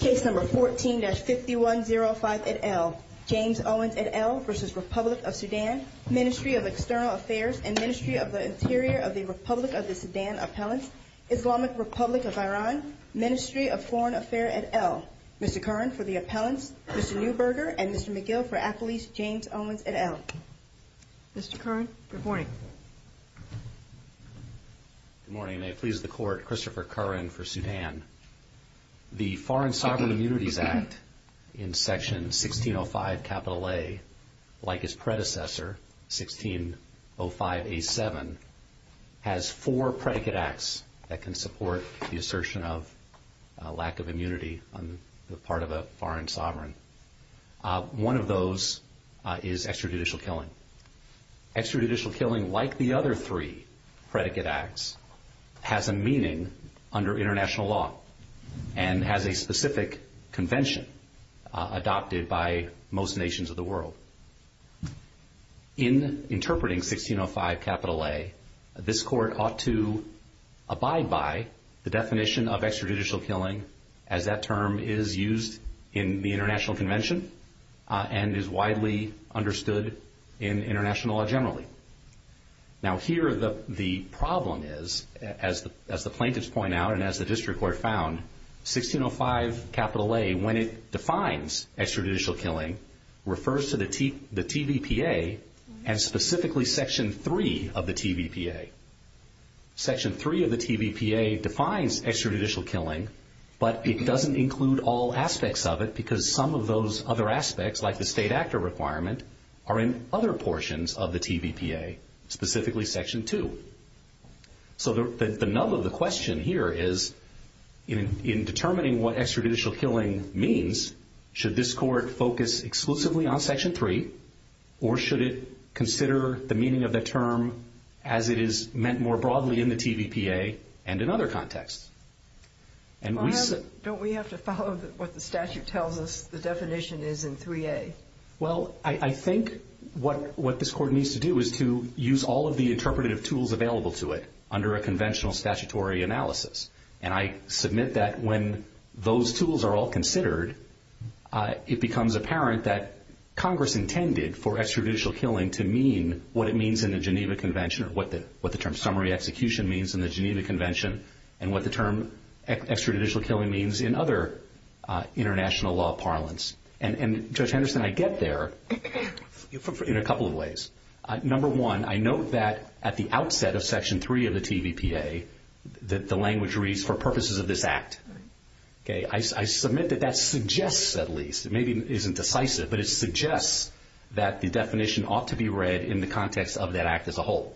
Case number 14-5105 et al. James Owens et al. v. Republic of Sudan Ministry of External Affairs and Ministry of the Interior of the Republic of the Sudan Appellant Islamic Republic of Iran Ministry of Foreign Affairs et al. Mr. Curran for the Appellant Mr. Neuberger and Mr. McGill for Appellant James Owens et al. Mr. Curran, reporting. Good morning. May it please the Court, Christopher Curran for Sudan. The Foreign Sovereign Immunities Act in Section 1605 A like its predecessor, 1605 A7 has four predicate acts that can support the assertion of lack of immunity on the part of a foreign sovereign. One of those is extrajudicial killing. Extrajudicial killing, like the other three predicate acts, has a meaning under international law and has a specific convention adopted by most nations of the world. In interpreting 1605 A this Court ought to abide by the definition of extrajudicial killing as that term is used in the international convention and is widely understood in international law generally. Now here the problem is as the plaintiffs point out and as the District Court found 1605 A, when it defines extrajudicial killing refers to the TVPA and specifically Section 3 of the TVPA. Section 3 of the TVPA defines extrajudicial killing but it doesn't include all aspects of it because some of those other aspects, like the state actor requirement, are in other portions of the TVPA, specifically Section 2. So the nub of the question here is in determining what extrajudicial killing means should this Court focus exclusively on Section 3 or should it consider the meaning of that term as it is meant more broadly in the TVPA and in other contexts? Don't we have to follow what the statute tells us the definition is in 3A? Well, I think what this Court needs to do is to use all of the interpretative tools available to it under a conventional statutory analysis and I submit that when those tools are all considered it becomes apparent that Congress intended for extrajudicial killing to mean what it means in the Geneva Convention or what the term summary execution means in the Geneva Convention and what the term extrajudicial killing means in other international law parlance. And Judge Henderson, I get there in a couple of ways. Number one, I note that at the outset of Section 3 of the TVPA that the language reads, for purposes of this Act, I submit that that suggests, at least, it maybe isn't decisive, but it suggests that the definition ought to be read in the context of that Act as a whole.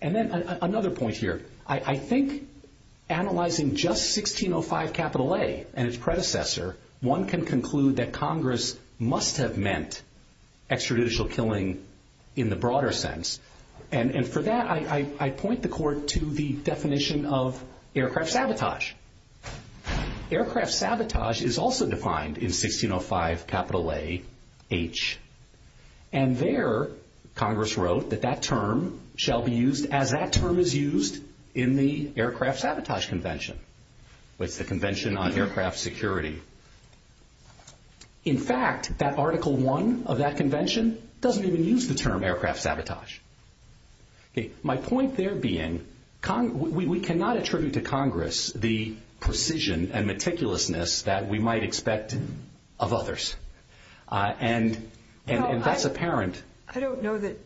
And then another point here, I think analyzing just 1605 A and its predecessor, one can conclude that Congress must have meant extrajudicial killing in the broader sense and for that I point the Court to the definition of aircraft sabotage. Aircraft sabotage is also defined in 1605 AH and there Congress wrote that that term shall be used as that term is used in the Aircraft Sabotage Convention with the Convention on Aircraft Security. In fact, that Article I of that convention doesn't even use the term aircraft sabotage. My point there being, we cannot attribute to Congress the precision and meticulousness that we might expect of others. And that's apparent. I don't know that...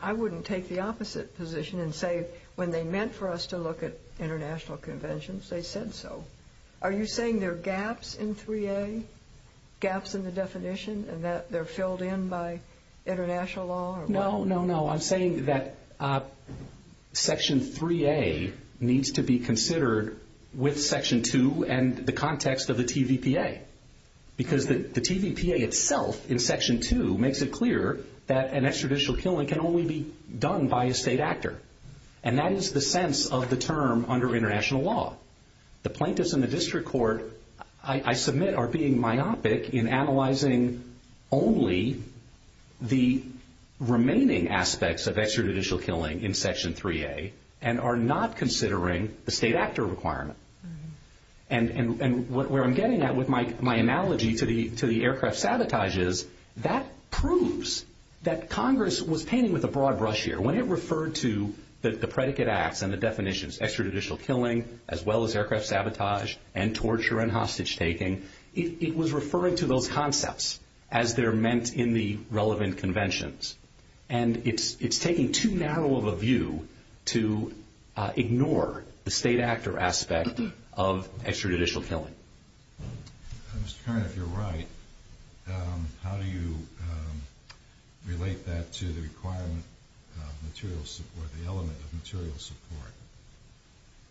I wouldn't take the opposite position and say when they meant for us to look at international conventions, they said so. Are you saying there are gaps in 3A, gaps in the definition, and that they're filled in by international law? No, no, no. I'm saying that Section 3A needs to be considered with Section 2 and the context of the TVPA because the TVPA itself in Section 2 makes it clear that an extrajudicial killing can only be done by a state actor. And that is the sense of the term under international law. The plaintiffs in the District Court, I submit, are being myopic in analyzing only the remaining aspects of extrajudicial killing in Section 3A and are not considering the state actor requirement. And where I'm getting at with my analogy to the aircraft sabotages, that proves that Congress was painting with a broad brush here. When it referred to the predicate acts and the definitions extrajudicial killing as well as aircraft sabotage and torture and hostage taking, it was referring to those concepts as they're meant in the relevant conventions. And it's taking too narrow of a view to ignore the state actor aspect of extrajudicial killing. Mr. Kern, if you're right, how do you relate that to the requirement of material support, the element of material support?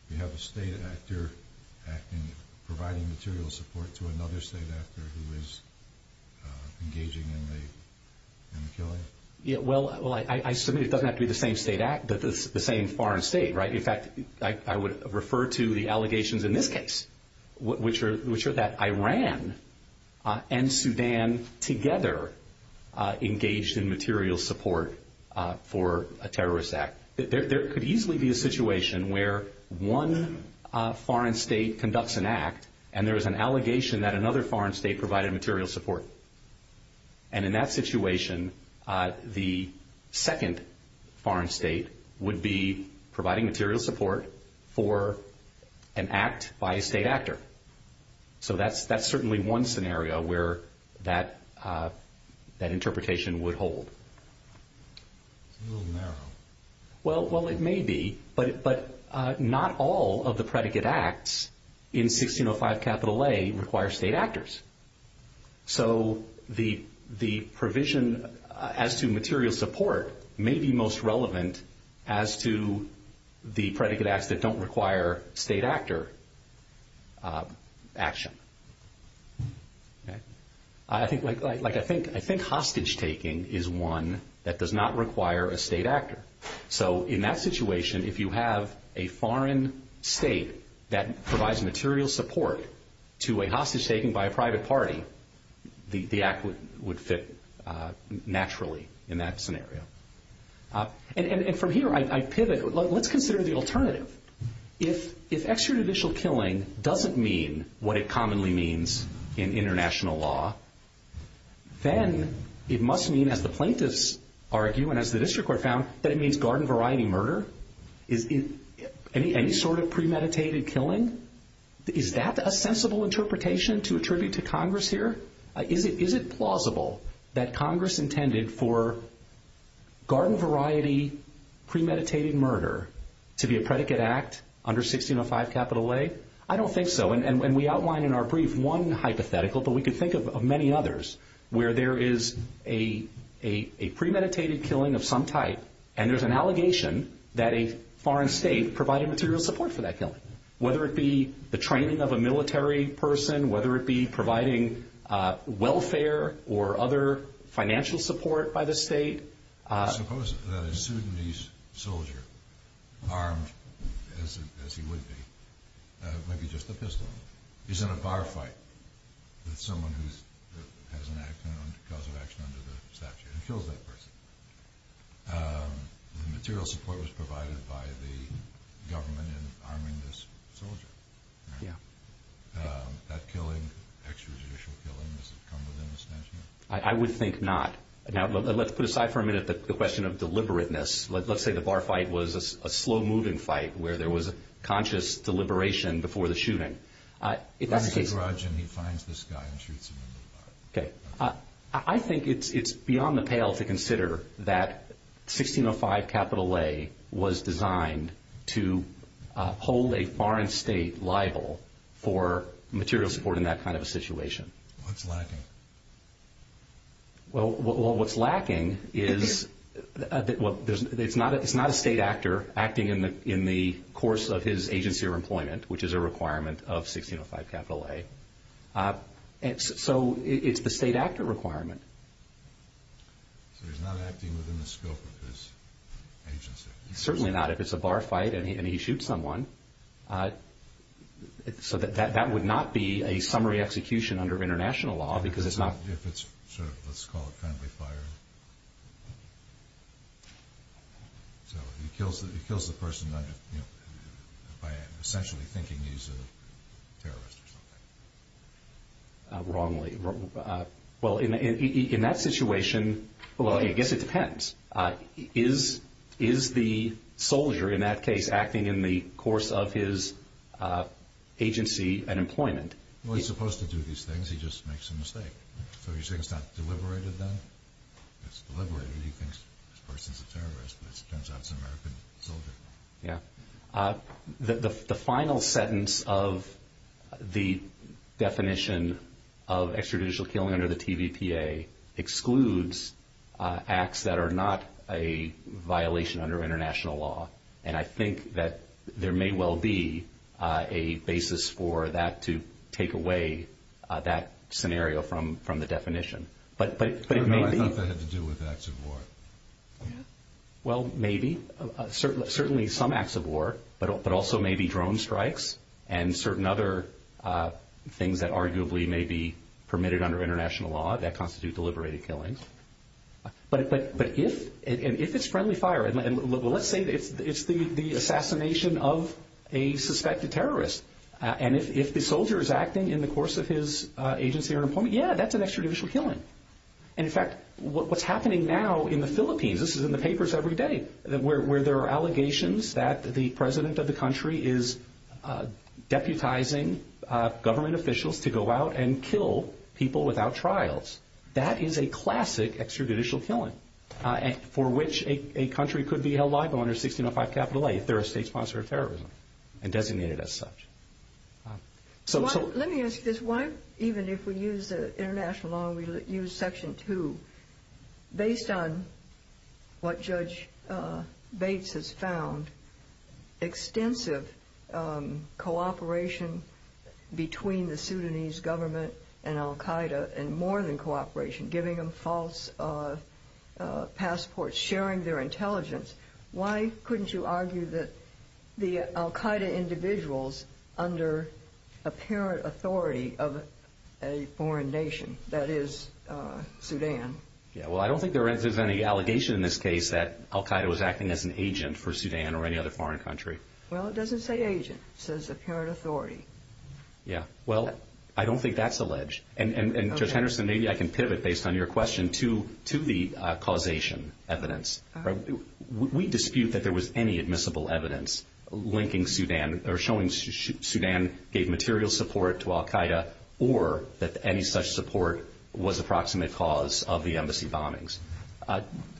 You have a state actor providing material support to another state actor who is engaging in the killing? Yeah, well, I submit it doesn't have to be the same state actor. It doesn't have to be the same foreign state, right? In fact, I would refer to the allegations in this case, which are that Iran and Sudan together engaged in material support for a terrorist act. There could easily be a situation where one foreign state conducts an act and there's an allegation that another foreign state provided material support. And in that situation, the second foreign state would be providing material support for an act by a state actor. So that's certainly one scenario where that interpretation would hold. A little narrow. Well, it may be, but not all of the predicate acts in 1605 capital A require state actors. So the provision as to material support may be most relevant as to the predicate acts that don't require state actor action. I think hostage taking is one that does not require a state actor. So in that situation, if you have a foreign state that provides material support to a hostage taking by a private party, the act would fit naturally in that scenario. And from here, I pivot. Let's consider the alternative. If extrajudicial killing doesn't mean what it commonly means in international law, then it must mean, as the plaintiffs argue and as the district court found, that it means garden variety murder. Any sort of premeditated killing, is that a sensible interpretation to attribute to Congress here? Is it plausible that Congress intended for garden variety premeditated murder to be a predicate act under 1605 capital A? I don't think so. And we outline in our brief one hypothetical, but we could think of many others, where there is a premeditated killing of some type and there's an allegation that a foreign state provided material support for that killing, whether it be the training of a military person, whether it be providing welfare or other financial support by the state. Suppose that a Sudanese soldier, armed as he would be, maybe just a pistol, is in a firefight with someone who has an accident because of action under the statute and kills that person. The material support was provided by the government in arming this soldier. Yeah. That killing, expeditious killing, is it coming within the statute? I would think not. Now, let's put aside for a minute the question of deliberateness. Let's say the firefight was a slow-moving fight where there was a conscious deliberation before the shooting. If that's the case... He's in a garage and he finds this guy and shoots him in the thigh. Okay. I think it's beyond the pale to consider that 1605 capital A was designed to hold a foreign state liable for material support in that kind of a situation. What's lacking? Well, what's lacking is... It's not a state actor acting in the course of his agency or employment, which is a requirement of 1605 capital A. So it's the state actor requirement. So he's not acting within the scope of his agency. Certainly not. If it's a bar fight and he shoots someone, that would not be a summary execution under international law because it's not... If it's, let's call it friendly fire. So he kills the person by essentially thinking he's a terrorist or something. Wrongly. Well, in that situation... Well, I guess it depends. Is the soldier, in that case, acting in the course of his agency and employment? Well, he's supposed to do these things. He just makes a mistake. So you're saying it's not deliberated then? It's deliberated. He thinks this person's a terrorist. It turns out he's an American soldier. Yeah. The final sentence of the definition of extrajudicial killing under the TVPA excludes acts that are not a violation under international law. And I think that there may well be a basis for that to take away that scenario from the definition. What does that have to do with acts of war? Well, maybe. Certainly some acts of war, but also maybe drone strikes and certain other things that arguably may be permitted under international law that constitute deliberated killings. But if it's friendly fire, and let's say it's the assassination of a suspected terrorist, and if the soldier is acting in the course of his agency or employment, yeah, that's an extrajudicial killing. In fact, what's happening now in the Philippines, this is in the papers every day, where there are allegations that the president of the country is deputizing government officials to go out and kill people without trials. That is a classic extrajudicial killing for which a country could be held liable under 1605 capital A if they're a state-sponsored terrorism and designated as such. Let me ask this. Why, even if we use international law and we use Section 2, based on what Judge Bates has found, extensive cooperation between the Sudanese government and al-Qaeda and more than cooperation, giving them false passports, sharing their intelligence, why couldn't you argue that the al-Qaeda individuals under apparent authority of a foreign nation, that is, Sudan? Yeah, well, I don't think there's any allegation in this case that al-Qaeda was acting as an agent for Sudan or any other foreign country. Well, it doesn't say agent. It says apparent authority. Yeah, well, I don't think that's alleged. And Judge Henderson, maybe I can pivot based on your question to the causation evidence. We dispute that there was any admissible evidence linking Sudan or showing Sudan gave material support to al-Qaeda or that any such support was the proximate cause of the embassy bombings.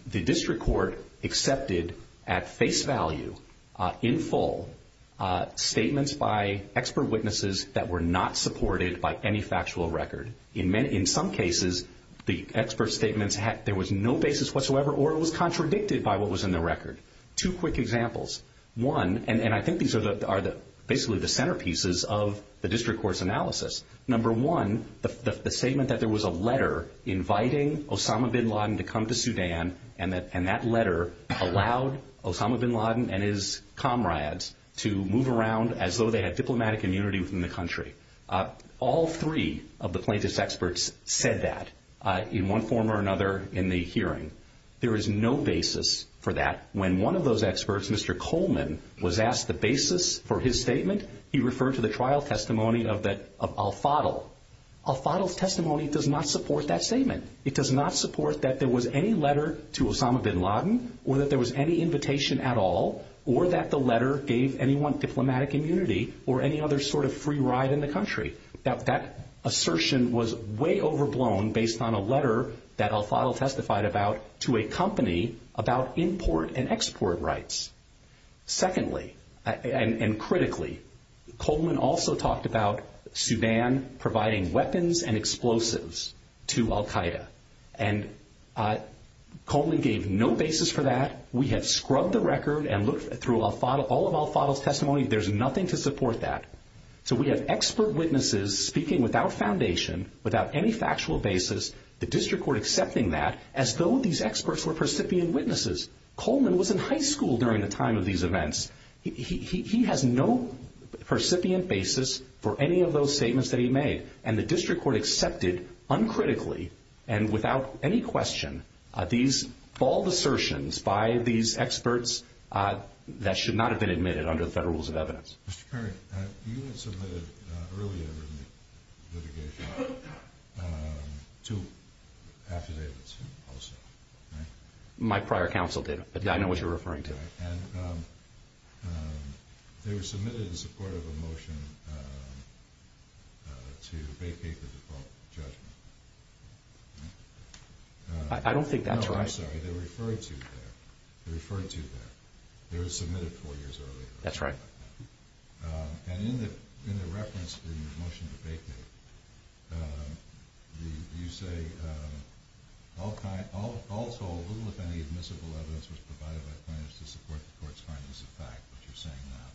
The district court accepted at face value, in full, statements by expert witnesses that were not supported by any factual record. In some cases, the expert statements, there was no basis whatsoever or it was contradicted by what was in the record. Two quick examples. One, and I think these are basically the centerpieces of the district court's analysis. Number one, the statement that there was a letter inviting Osama bin Laden to come to Sudan and that letter allowed Osama bin Laden and his comrades to move around as though they had diplomatic immunity from the country. All three of the plaintiff's experts said that in one form or another in the hearing. There is no basis for that. When one of those experts, Mr. Coleman, was asked the basis for his statement, he referred to the trial testimony of al-Fadl. Al-Fadl's testimony does not support that statement. It does not support that there was any letter to Osama bin Laden or that there was any invitation at all or that the letter gave anyone diplomatic immunity or any other sort of free ride in the country. That assertion was way overblown based on a letter that al-Fadl testified about to a company about import and export rights. Secondly, and critically, Coleman also talked about Sudan providing weapons and explosives to al-Qaeda. And Coleman gave no basis for that. We have scrubbed the record and looked through all of al-Fadl's testimony. There's nothing to support that. So we have expert witnesses speaking without foundation, without any factual basis, the district court accepting that as though these experts were recipient witnesses. Coleman was in high school during the time of these events. He has no recipient basis for any of those statements that he made, and the district court accepted uncritically and without any question these bald assertions by these experts that should not have been admitted under the Federal Rules of Evidence. Mr. Curry, you had submitted earlier in the litigation two affidavits, right? My prior counsel did, but I know what you're referring to. They were submitted in support of a motion to vacate the default judgment. I don't think that's right. No, I'm sorry, they referred to that. They were submitted four years earlier. And in the reference to the motion to vacate, you say, all told, little if any admissible evidence was provided by plaintiffs to support the court's findings of fact, which you're saying now.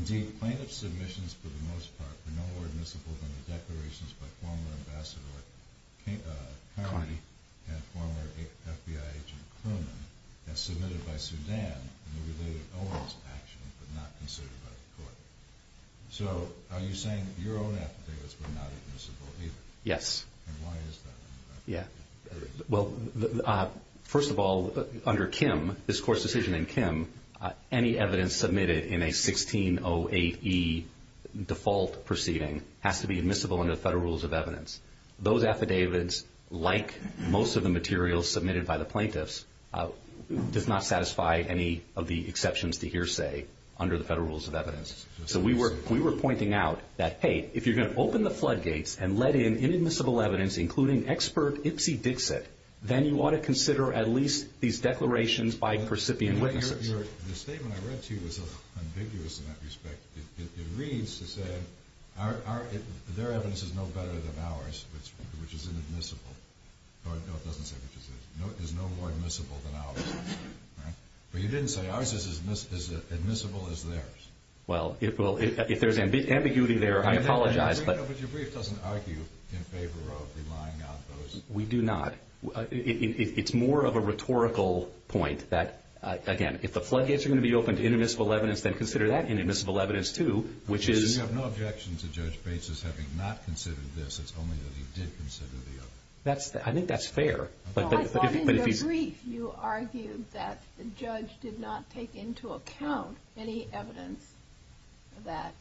Indeed, plaintiff's submissions, for the most part, were no more admissible than the declarations by former Ambassador Curry and former FBI agent Coleman as submitted by Suzanne in the related Owens actions, but not considered by the court. So, are you saying your own affidavits were not admissible either? Yes. And why is that? Well, first of all, under Kim, this court's decision in Kim, any evidence submitted in a 1608E default proceeding has to be admissible under the Federal Rules of Evidence. Those affidavits, like most of the materials submitted by the plaintiffs, did not satisfy any of the exceptions to hearsay under the Federal Rules of Evidence. So we were pointing out that, hey, if you're going to open the floodgates and let in inadmissible evidence, including expert ipsy-dixit, then you ought to consider at least these declarations by percipient witnesses. The statement I read to you was ambiguous in that respect. It reads to say, their evidence is no better than ours, which is inadmissible. The court doesn't say which is it. No, it is no more admissible than ours. But you didn't say ours is as admissible as theirs. Well, if there's ambiguity there, I apologize. But your brief doesn't argue in favor of relying on those. We do not. It's more of a rhetorical point that, again, if the floodgates are going to be opened to inadmissible evidence, then consider that inadmissible evidence too, which is... You have no objection to Judge Bates's having not considered this. It's only that he did consider the other. I think that's fair. I thought in your brief you argued that the judge did not take into account any evidence that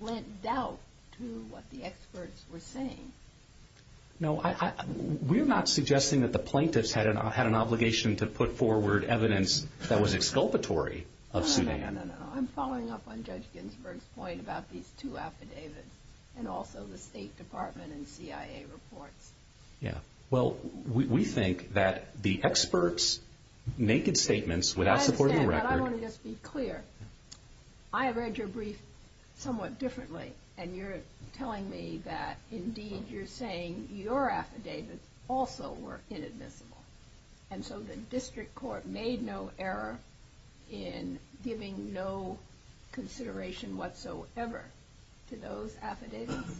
lent doubt to what the experts were saying. No, we're not suggesting that the plaintiffs had an obligation to put forward evidence that was exculpatory of Sudan. No, no, no. I'm following up on Judge Ginsburg's point about these two affidavits and also the State Department and CIA reports. Well, we think that the experts' naked statements, without supporting the record... I understand, but I want to just be clear. I read your brief somewhat differently, and you're telling me that indeed you're saying your affidavits also were inadmissible, and so the district court made no error in giving no consideration whatsoever to those affidavits.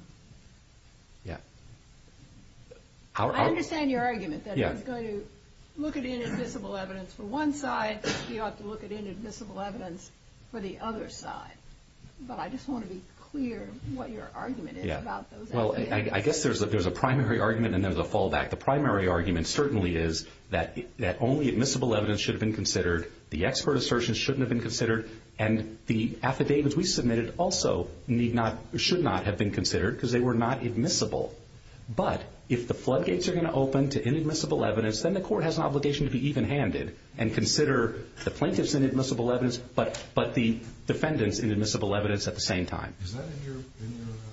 Yeah. I understand your argument that you're going to look at inadmissible evidence for one side, but you don't have to look at inadmissible evidence for the other side. But I just want to be clear what your argument is about those affidavits. Well, I guess there's a primary argument and there's a fallback. The primary argument certainly is that only admissible evidence should have been considered, the expert assertion shouldn't have been considered, and the affidavits we submitted also should not have been considered because they were not admissible. But if the floodgates are going to open to inadmissible evidence, then the court has an obligation to be even-handed and consider the plaintiff's inadmissible evidence but the defendant's inadmissible evidence at the same time. Is that in your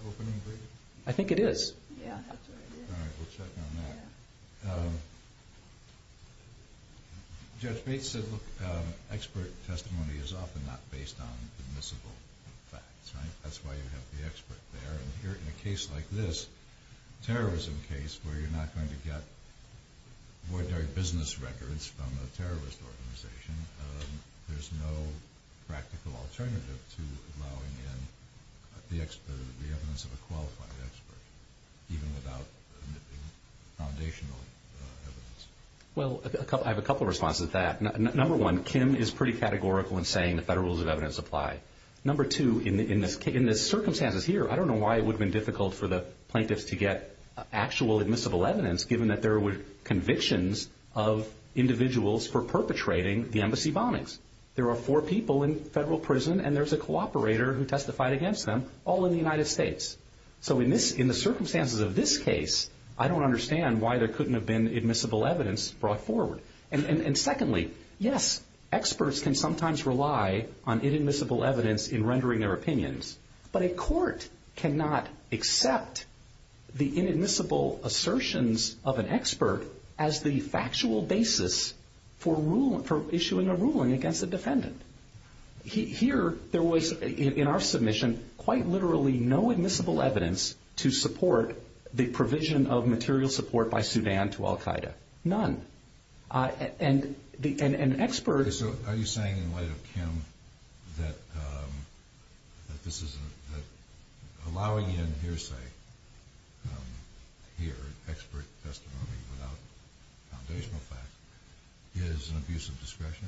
opening brief? I think it is. All right, we'll check on that. Jeff Bates said, look, expert testimony is often not based on admissible facts. That's why you have the expert there. In a case like this, a terrorism case, where you're not going to get ordinary business records from a terrorist organization, there's no practical alternative to allowing in the expert. Well, I have a couple of responses to that. Number one, Kim is pretty categorical in saying that better rules of evidence apply. Number two, in the circumstances here, I don't know why it would have been difficult for the plaintiffs to get actual admissible evidence, given that there were convictions of individuals for perpetrating the embassy bombings. There were four people in federal prison, and there's a cooperator who testified against them, all in the United States. So in the circumstances of this case, I don't understand why there couldn't have been admissible evidence brought forward. And secondly, yes, experts can sometimes rely on inadmissible evidence in rendering their opinions, but a court cannot accept the inadmissible assertions of an expert as the factual basis for issuing a ruling against a defendant. Here, there was, in our submission, quite literally no admissible evidence to support the provision of material support by Sudan to al-Qaeda. None. And experts... So are you saying, in light of Kim, that allowing in hearsay here, expert testimony about engagement facts, is an abuse of discretion?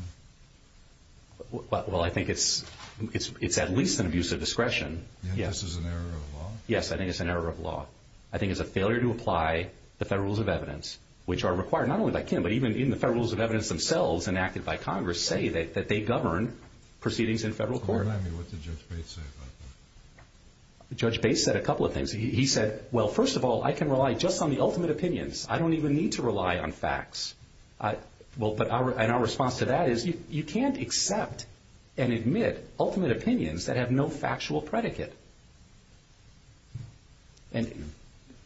Well, I think it's at least an abuse of discretion, yes. And this is an error of law? Yes, I think it's an error of law. I think it's a failure to apply the Federal Rules of Evidence, which are required not only by Kim, but even in the Federal Rules of Evidence themselves, enacted by Congress, say that they govern proceedings in federal court. Remind me what Judge Bates said about that. Judge Bates said a couple of things. He said, well, first of all, I can rely just on the ultimate opinions. I don't even need to rely on facts. And our response to that is, you can't accept and admit ultimate opinions that have no factual predicate.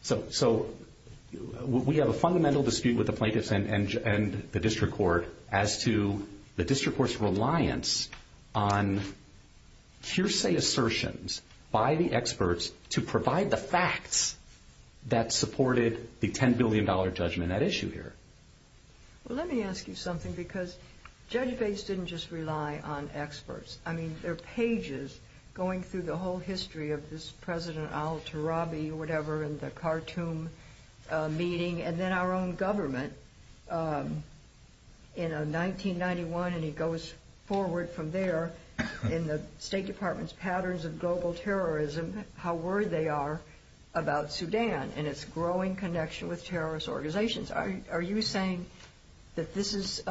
So we have a fundamental dispute with the plaintiffs and the district court as to the district court's reliance on hearsay assertions by the experts to provide the facts that supported the $10 billion judgment on that issue here. Well, let me ask you something, because Judge Bates didn't just rely on experts. I mean, there are pages going through the whole history of this President Al-Turabi, whatever, and the Khartoum meeting, and then our own government in 1991, and he goes forward from there in the State Department's patterns of global terrorism, how worried they are about Sudan and its growing connection with terrorist organizations. Are you saying that this is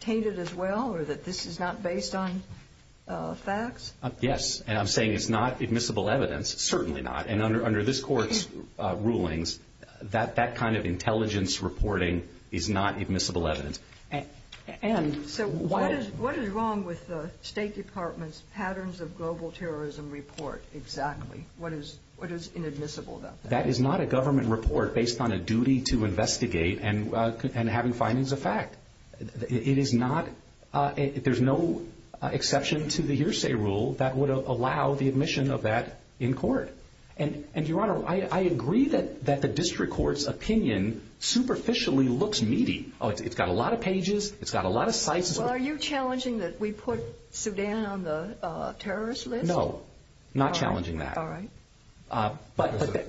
tainted as well or that this is not based on facts? Yes, and I'm saying it's not admissible evidence, certainly not, and under this court's rulings, that kind of intelligence reporting is not admissible evidence. And so what is wrong with the State Department's global terrorism report exactly? What is inadmissible about that? That is not a government report based on a duty to investigate and having findings of fact. It is not, there's no exception to the hearsay rule that would allow the admission of that in court. And, Your Honor, I agree that the district court's opinion superficially looks meaty. It's got a lot of pages, it's got a lot of sites. Are you challenging that we put Sudan on the terrorist list? No, not challenging that. But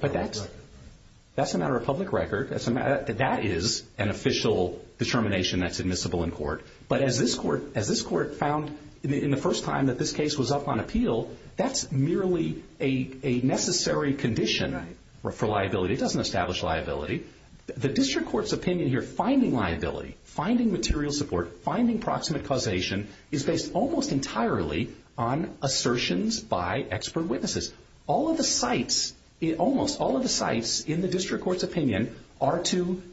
that's a matter of public record. That is an official determination that's admissible in court. But as this court found in the first time that this case was up on appeal, that's merely a necessary condition for liability. It doesn't establish liability. The district court's opinion here, finding liability, finding material support, finding proximate causation, is based almost entirely on assertions by expert witnesses. All of the sites, almost all of the sites in the district court's opinion are to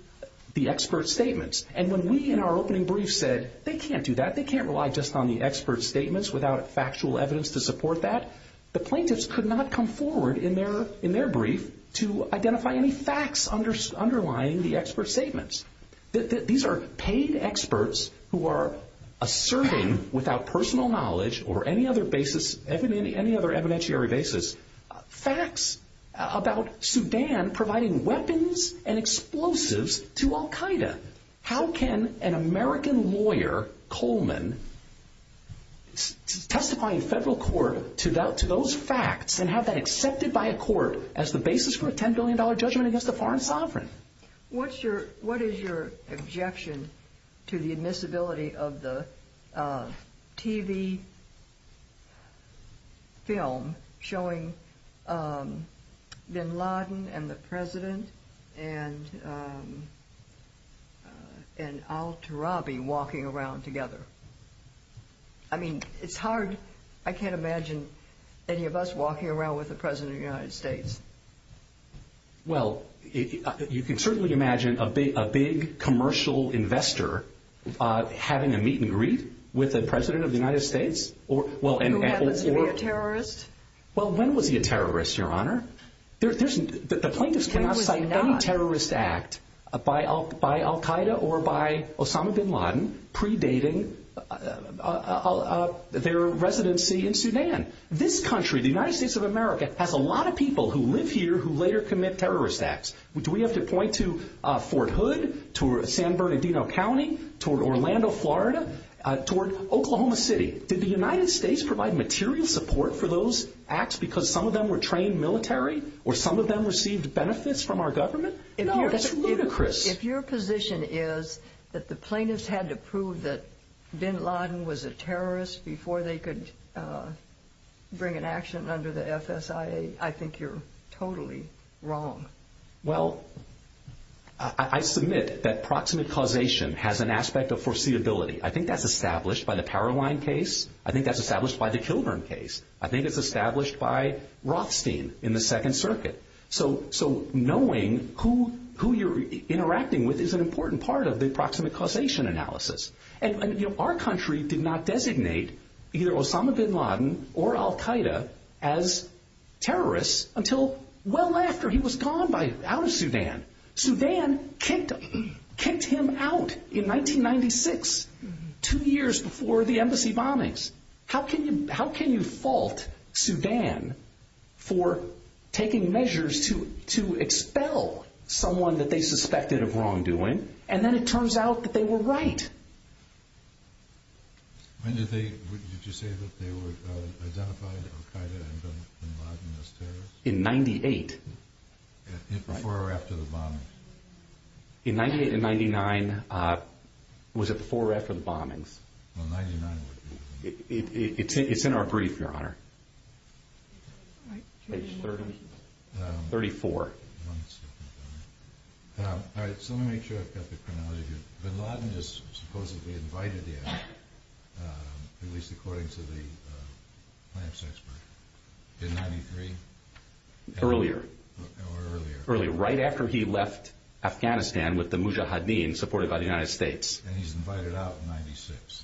the expert's statements. And when we, in our opening brief, said, they can't do that, they can't rely just on the expert's statements without factual evidence to support that, the plaintiffs could not come forward in their brief to identify any facts underlying the expert's statements. These are paid experts who are asserting, without personal knowledge or any other basis, any other evidentiary basis, facts about Sudan providing weapons and explosives to al-Qaeda. How can an American lawyer, Coleman, testify in federal court to those facts and have that accepted by a court as the basis for a $10 billion judgment against a foreign sovereign? What's your, what is your objection to the admissibility of the TV film showing bin Laden and the president and al-Turabi walking around together? I mean, it's hard, I can't imagine any of us walking around with the president of the United States. Well, you can certainly imagine a big commercial investor having a meet and greet with the president of the United States. Who happens to be a terrorist? Well, when was he a terrorist, Your Honor? The plaintiffs cannot cite any terrorist act by al-Qaeda or by Osama bin Laden predating their residency in Sudan. This country, the United States of America, has a lot of people who live here who later commit terrorist acts. Do we have to point to Fort Hood, toward San Bernardino County, toward Orlando, Florida, toward Oklahoma City? Did the United States provide material support for those acts because some of them were trained military or some of them received benefits from our government? No, that's ludicrous. If your position is that the plaintiffs had to prove that bin Laden was a terrorist before they could bring an action under the FSIA, I think you're totally wrong. Well, I submit that proximate causation has an aspect of foreseeability. I think that's established by the Paraguayan case. I think that's established by the Kilburn case. I think it's established by Rothstein in the Second Circuit. So knowing who you're interacting with is an important part of the proximate causation analysis. Our country did not designate either Osama bin Laden or Al-Qaeda as terrorists until well after he was gone out of Sudan. Sudan kicked him out in 1996, two years before the embassy bombings. How can you fault Sudan for taking measures to expel someone that they suspected of wrongdoing, and then it turns out that they were right? When did you say that they were identified as Al-Qaeda and bin Laden as terrorists? In 98. Before or after the bombings? In 98 and 99. Was it before or after the bombings? Well, 99 was before. It's in our brief, Your Honor. Right. 34. All right, so let me make sure I've got this in order. Bin Laden was supposedly invited there, at least according to the plans expert, in 93? Earlier. Earlier. Right after he left Afghanistan with the Mujahideen supported by the United States. And he's invited out in 96.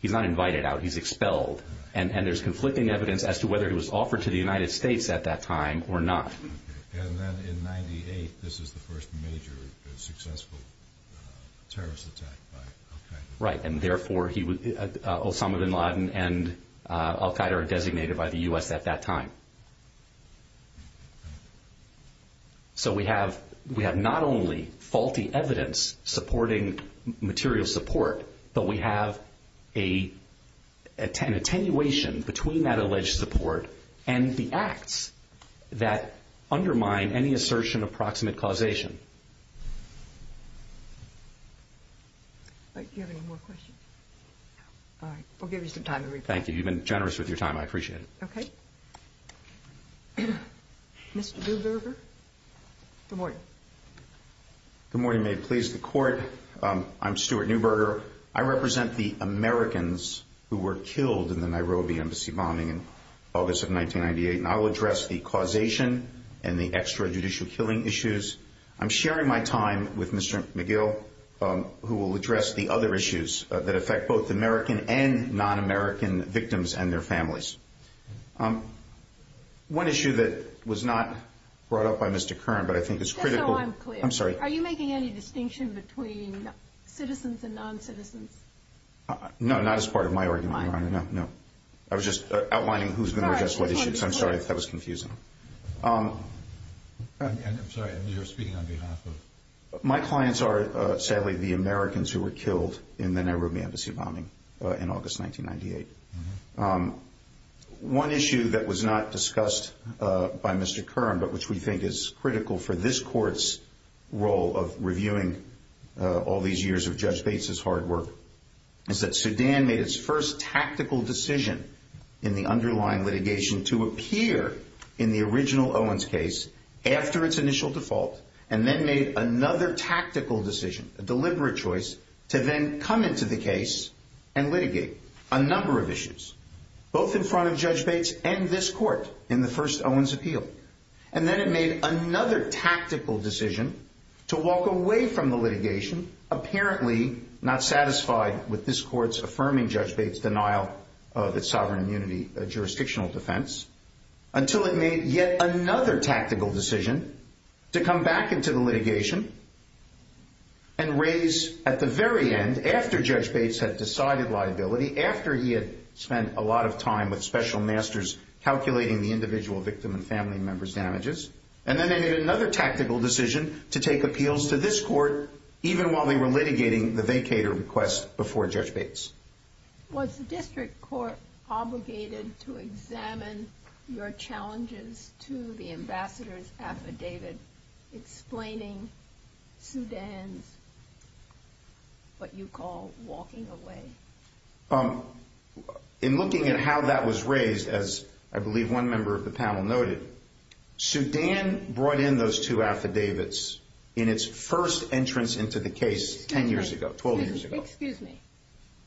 He's not invited out, he's expelled. And there's conflicting evidence as to whether he was offered to the United States at that time or not. And then in 98, this is the first major successful terrorist attack by Al-Qaeda. Right, and therefore Osama bin Laden and Al-Qaeda are designated by the U.S. at that time. So we have not only faulty evidence supporting material support, but we have an attenuation between that alleged support and the acts that undermine any assertion of proximate causation. Do you have any more questions? All right, we'll give you some time to respond. Thank you, you've been generous with your time, I appreciate it. Okay. Mr. Neuberger? Good morning. Good morning, may it please the Court. I'm Stuart Neuberger. I represent the Americans who were killed in the Nairobi embassy bombing in August of 1998, and I'll address the causation and the extrajudicial killing issues. I'm sharing my time with Mr. McGill, who will address the other issues that affect both American and non-American victims and their families. One issue that was not brought up by Mr. Kern, but I think is critical... No, no, I'm clear. I'm sorry. Are you making any distinction between citizens and non-citizens? No, not as part of my argument. No, no. I was just outlining who's going to address what issues. I'm sorry if that was confusing. I'm sorry, you were speaking on behalf of... My clients are, sadly, the Americans who were killed in the Nairobi embassy bombing in August 1998. One issue that was not discussed by Mr. Kern, but which we think is critical for this Court's role of reviewing all these years of Judge Bates's hard work, is that Sudan made its first tactical decision in the underlying litigation to appear in the original Owens case after its initial default and then made another tactical decision, a deliberate choice, to then come into the case and litigate a number of issues, both in front of Judge Bates and this Court in the first Owens appeal. And then it made another tactical decision to walk away from the litigation, apparently not satisfied with this Court's affirming Judge Bates' denial of its sovereign immunity jurisdictional defense, until it made yet another tactical decision to come back into the litigation and raise, at the very end, after Judge Bates had decided liability, after he had spent a lot of time with special masters calculating the individual victim and family members' damages, and then they made another tactical decision to take appeals to this Court, even while they were litigating the vacator request before Judge Bates. Was the District Court obligated to examine your challenges to the ambassadors affidavit, explaining to them what you call walking away? In looking at how that was raised, as I believe one member of the panel noted, Sudan brought in those two affidavits in its first entrance into the case 10 years ago, 12 years ago. Excuse me.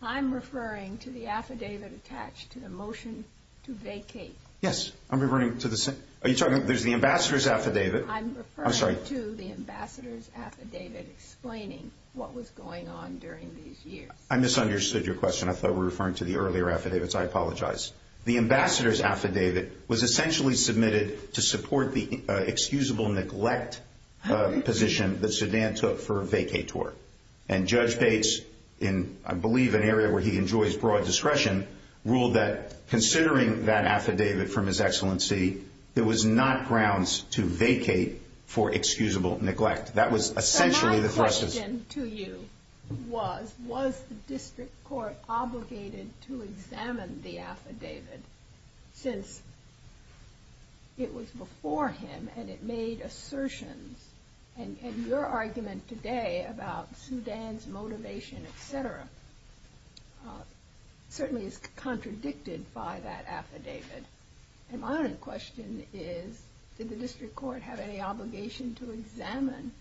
I'm referring to the affidavit attached to the motion to vacate. Yes, I'm referring to the... Are you talking... There's the ambassador's affidavit. I'm referring to the ambassador's affidavit explaining what was going on during these years. I misunderstood your question. I thought we were referring to the earlier affidavits. I apologize. The ambassador's affidavit was essentially submitted to support the excusable neglect position that Sudan took for a vacator. And Judge Bates, in I believe an area where he enjoys broad discretion, ruled that considering that affidavit from His Excellency, there was not grounds to vacate for excusable neglect. That was essentially the question. So my question to you was, was the District Court obligated to examine the affidavit since it was before him and it made assertions? And your argument today about Sudan's motivation, et cetera, certainly is contradicted by that affidavit. And my other question is, did the District Court have any obligation to examine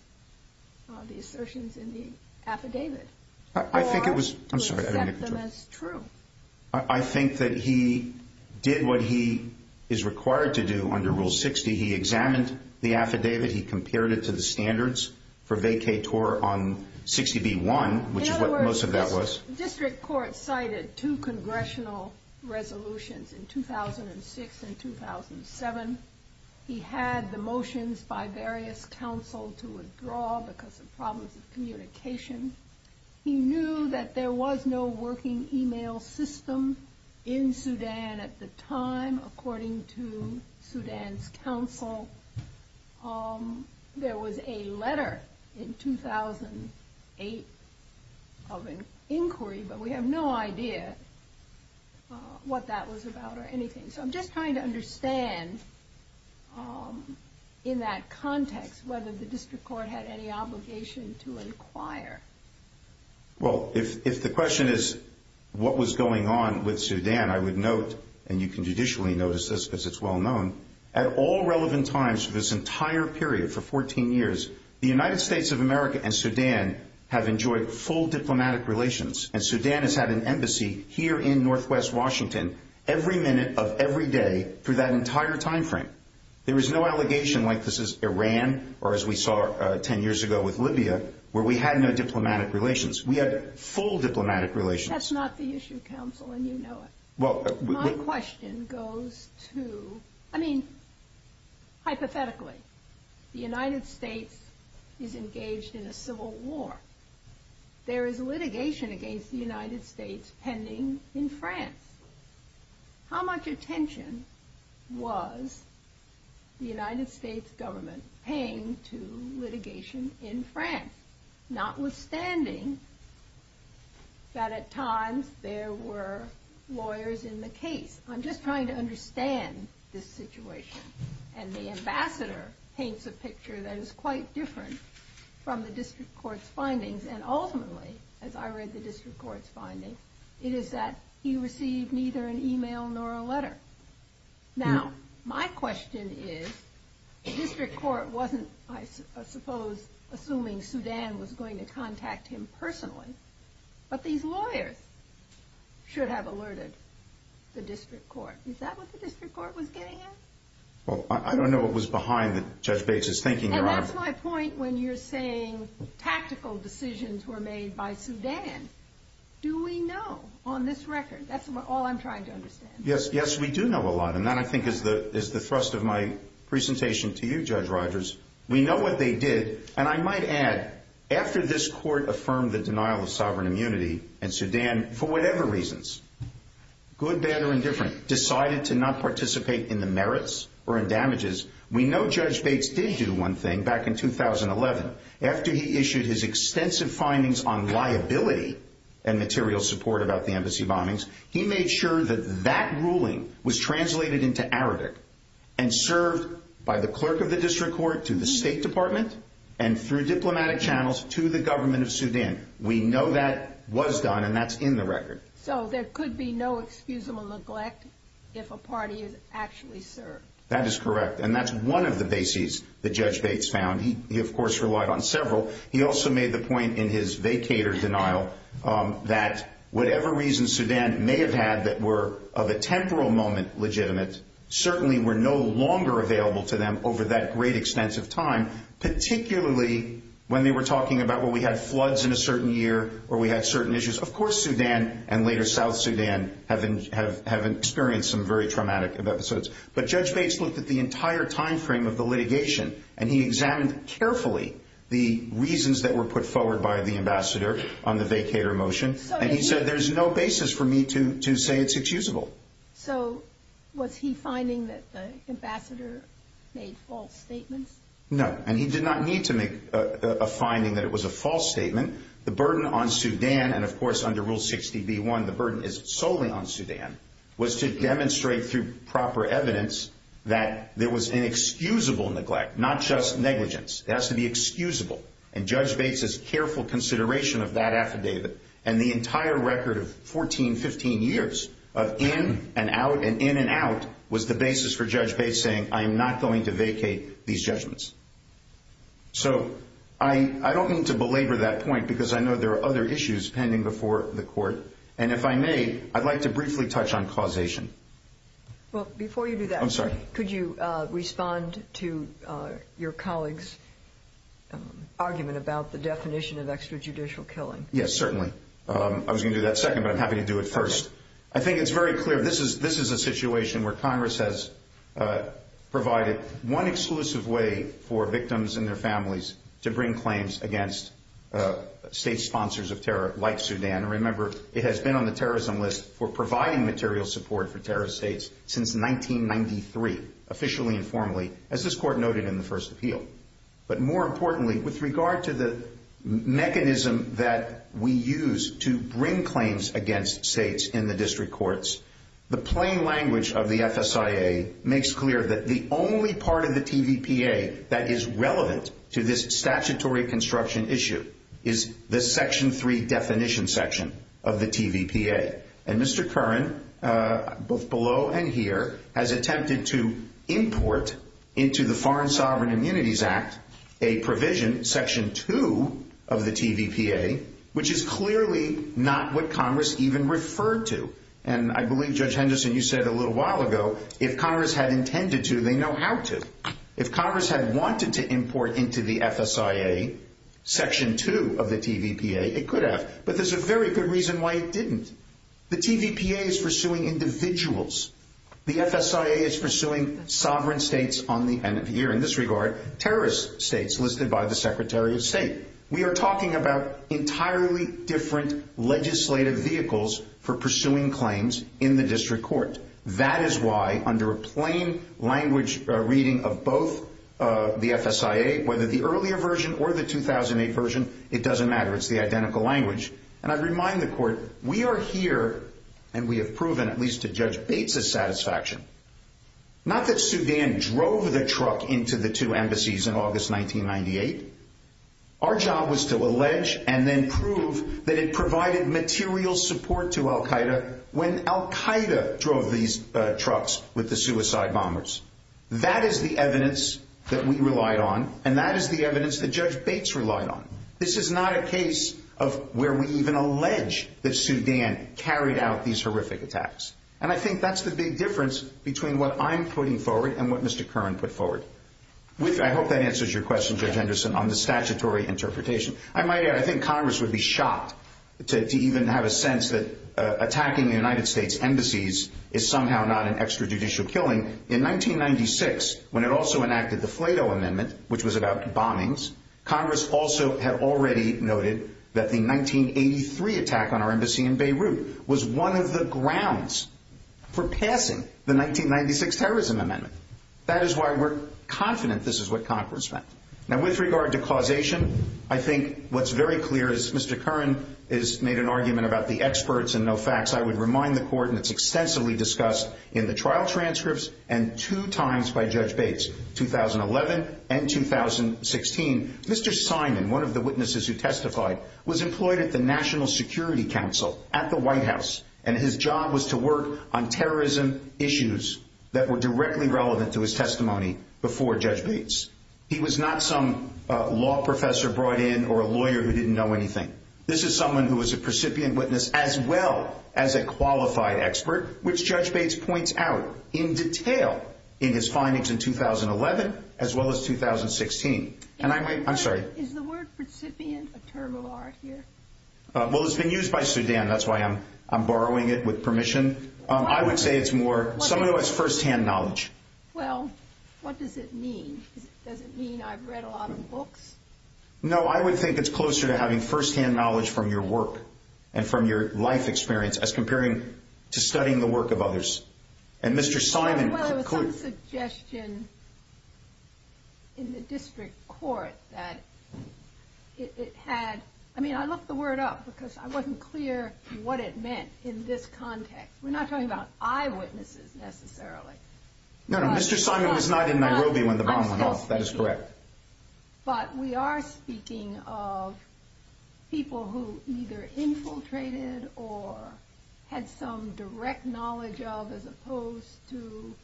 the assertions in the affidavit? I think it was... I'm sorry. That's true. I think that he did what he is required to do under Rule 60. He examined the affidavit. He compared it to the standards for vacator on 60B1, which is what most of that was. The District Court cited two congressional resolutions in 2006 and 2007. He had the motions by various councils to withdraw because of problems with communication. He knew that there was no working email system in Sudan at the time according to Sudan's council. There was a letter in 2008 of an inquiry, but we have no idea what that was about or anything. So I'm just trying to understand in that context whether the District Court had any obligation to inquire. Well, if the question is what was going on with Sudan, I would note, and you can judicially notice this because it's well known, at all relevant times for this entire period, for 14 years, the United States of America and Sudan have enjoyed full diplomatic relations, and Sudan has had an embassy here in northwest Washington every minute of every day for that entire time frame. There was no allegation like this is Iran or as we saw 10 years ago with Libya where we had no diplomatic relations. We had full diplomatic relations. That's not the issue, counsel, and you know it. My question goes to, I mean, hypothetically, the United States is engaged in a civil war. There is litigation against the United States pending in France. How much attention was the United States government paying to litigation in France, notwithstanding that at times there were lawyers in the case? I'm just trying to understand this situation, and the ambassador paints a picture that is quite different from the District Court's findings, and ultimately, as I read the District Court's findings, it is that he received neither an email nor a letter. Now, my question is, the District Court wasn't, I suppose, assuming Sudan was going to contact him personally, but these lawyers should have alerted the District Court. Is that what the District Court was getting at? Well, I don't know what was behind Judge Bates' thinking. And that's my point when you're saying tactical decisions were made by Sudan. Do we know on this record? That's all I'm trying to understand. Yes, we do know a lot, and that, I think, is the thrust of my presentation to you, Judge Rogers. We know what they did, and I might add, after this court affirmed the denial of sovereign immunity in Sudan, for whatever reasons, good, bad, or indifferent, decided to not participate in the merits or in damages, we know Judge Bates did do one thing back in 2011. After he issued his extensive findings on liability and material support about the embassy bombings, he made sure that that ruling was translated into Arabic and served by the clerk of the District Court to the State Department and through diplomatic channels to the government of Sudan. We know that was done, and that's in the record. So there could be no excusable neglect if a party is actually served. That is correct, and that's one of the bases that Judge Bates found. He, of course, relied on several. He also made the point in his vacators denial that whatever reasons Sudan may have had that were of a temporal moment legitimate certainly were no longer available to them over that great extent of time, particularly when they were talking about, well, we had floods in a certain year or we had certain issues. Of course Sudan and later South Sudan have experienced some very traumatic episodes. But Judge Bates looked at the entire time frame of the litigation, and he examined carefully the reasons that were put forward by the ambassador on the vacator motion, and he said there's no basis for me to say it's excusable. So was he finding that the ambassador made false statements? No, and he did not need to make a finding that it was a false statement. The burden on Sudan, and of course under Rule 60b-1 the burden is solely on Sudan, was to demonstrate through proper evidence that there was inexcusable neglect, not just negligence. It has to be excusable, and Judge Bates's careful consideration of that affidavit and the entire record of 14, 15 years of in and out, and in and out, was the basis for Judge Bates saying I am not going to vacate these judgments. So I don't mean to belabor that point because I know there are other issues pending before the court, and if I may, I'd like to briefly touch on causation. Well, before you do that, could you respond to your colleague's argument about the definition of extrajudicial killing? Yes, certainly. I was going to do that second, but I'm happy to do it first. I think it's very clear this is a situation where Congress has provided one exclusive way for victims and their families to bring claims against state sponsors of terror like Sudan. Remember, it has been on the terrorism list for providing material support for terrorist states since 1993, officially and formally, as this court noted in the first appeal. But more importantly, with regard to the mechanism that we use to bring claims against states in the district courts, the plain language of the FSIA makes clear that the only part of the TVPA that is relevant to this statutory construction issue is the Section 3 definition section of the TVPA. And Mr. Curran, both below and here, has attempted to import into the Foreign Sovereign Immunities Act a provision, Section 2 of the TVPA, which is clearly not what Congress even referred to. And I believe, Judge Henderson, you said a little while ago, if Congress had intended to, they know how to. If Congress had wanted to import into the FSIA Section 2 of the TVPA, it could have. But there's a very good reason why it didn't. The TVPA is pursuing individuals. The FSIA is pursuing sovereign states on the end of the year. In this regard, terrorist states listed by the Secretary of State. We are talking about entirely different legislative vehicles for pursuing claims in the district court. That is why, under a plain language reading of both the FSIA, whether the earlier version or the 2008 version, it doesn't matter. It's the identical language. And I'd remind the Court, we are here, and we have proven, at least to Judge Bates' satisfaction, not that Sudan drove the truck into the two embassies in August 1998. Our job was to allege and then prove that it provided material support to al-Qaeda when al-Qaeda drove these trucks with the suicide bombers. That is the evidence that we relied on, and that is the evidence that Judge Bates relied on. This is not a case of where we even allege that Sudan carried out these horrific attacks. And I think that's the big difference between what I'm putting forward and what Mr. Curran put forward. I hope that answers your question, Judge Henderson, on the statutory interpretation. I might add, I think Congress would be shocked to even have a sense that attacking the United States embassies is somehow not an extrajudicial killing. In 1996, when it also enacted the Flato Amendment, which was about the bombings, Congress also had already noted that the 1983 attack on our embassy in Beirut was one of the grounds for passing the 1996 Terrorism Amendment. That is why we're confident this is what Congress meant. Now, with regard to causation, I think what's very clear is Mr. Curran has made an argument about the experts and no facts. I would remind the Court, and it's extensively discussed in the trial transcripts and two times by Judge Bates, 2011 and 2016, Mr. Simon, one of the witnesses who testified, was employed at the National Security Council at the White House, and his job was to work on terrorism issues that were directly relevant to his testimony before Judge Bates. He was not some law professor brought in or a lawyer who didn't know anything. This is someone who was a recipient witness as well as a qualified expert, which Judge Bates points out in detail in his findings in 2011 as well as 2016. Can I make—I'm sorry. Is the word recipient a term of ours here? Well, it's been used by Sudan. That's why I'm borrowing it with permission. I would say it's more—some of it was first-hand knowledge. Well, what does it mean? Does it mean I've read a lot of books? No, I would think it's closer to having first-hand knowledge from your work and from your life experience as comparing to studying the work of others. And Mr. Simon— Well, there was some suggestion in the district court that it had— I mean, I looked the word up because I wasn't clear what it meant in this context. We're not talking about eyewitnesses necessarily. No, no, Mr. Simon was not in Nairobi when the bomb went off. That is correct. But we are speaking of people who either infiltrated or had some direct knowledge of as opposed to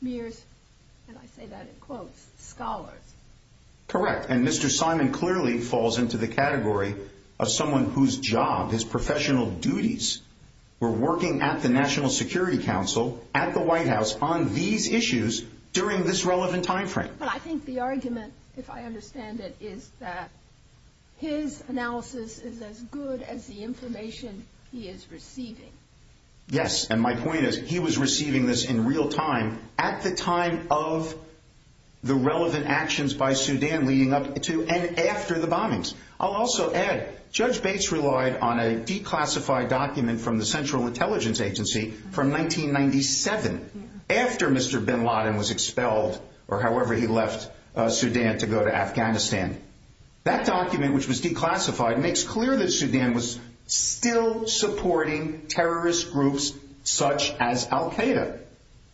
mere, and I say that in quotes, scholars. Correct. And Mr. Simon clearly falls into the category of someone whose job, his professional duties were working at the National Security Council at the White House on these issues during this relevant timeframe. But I think the argument, if I understand it, is that his analysis is as good as the information he is receiving. Yes, and my point is he was receiving this in real time at the time of the relevant actions by Sudan leading up to and after the bombings. I'll also add, Judge Bates relied on a declassified document from the Central Intelligence Agency from 1997, after Mr. Bin Laden was expelled or however he left Sudan to go to Afghanistan. That document, which was declassified, makes clear that Sudan was still supporting terrorist groups such as al-Qaeda.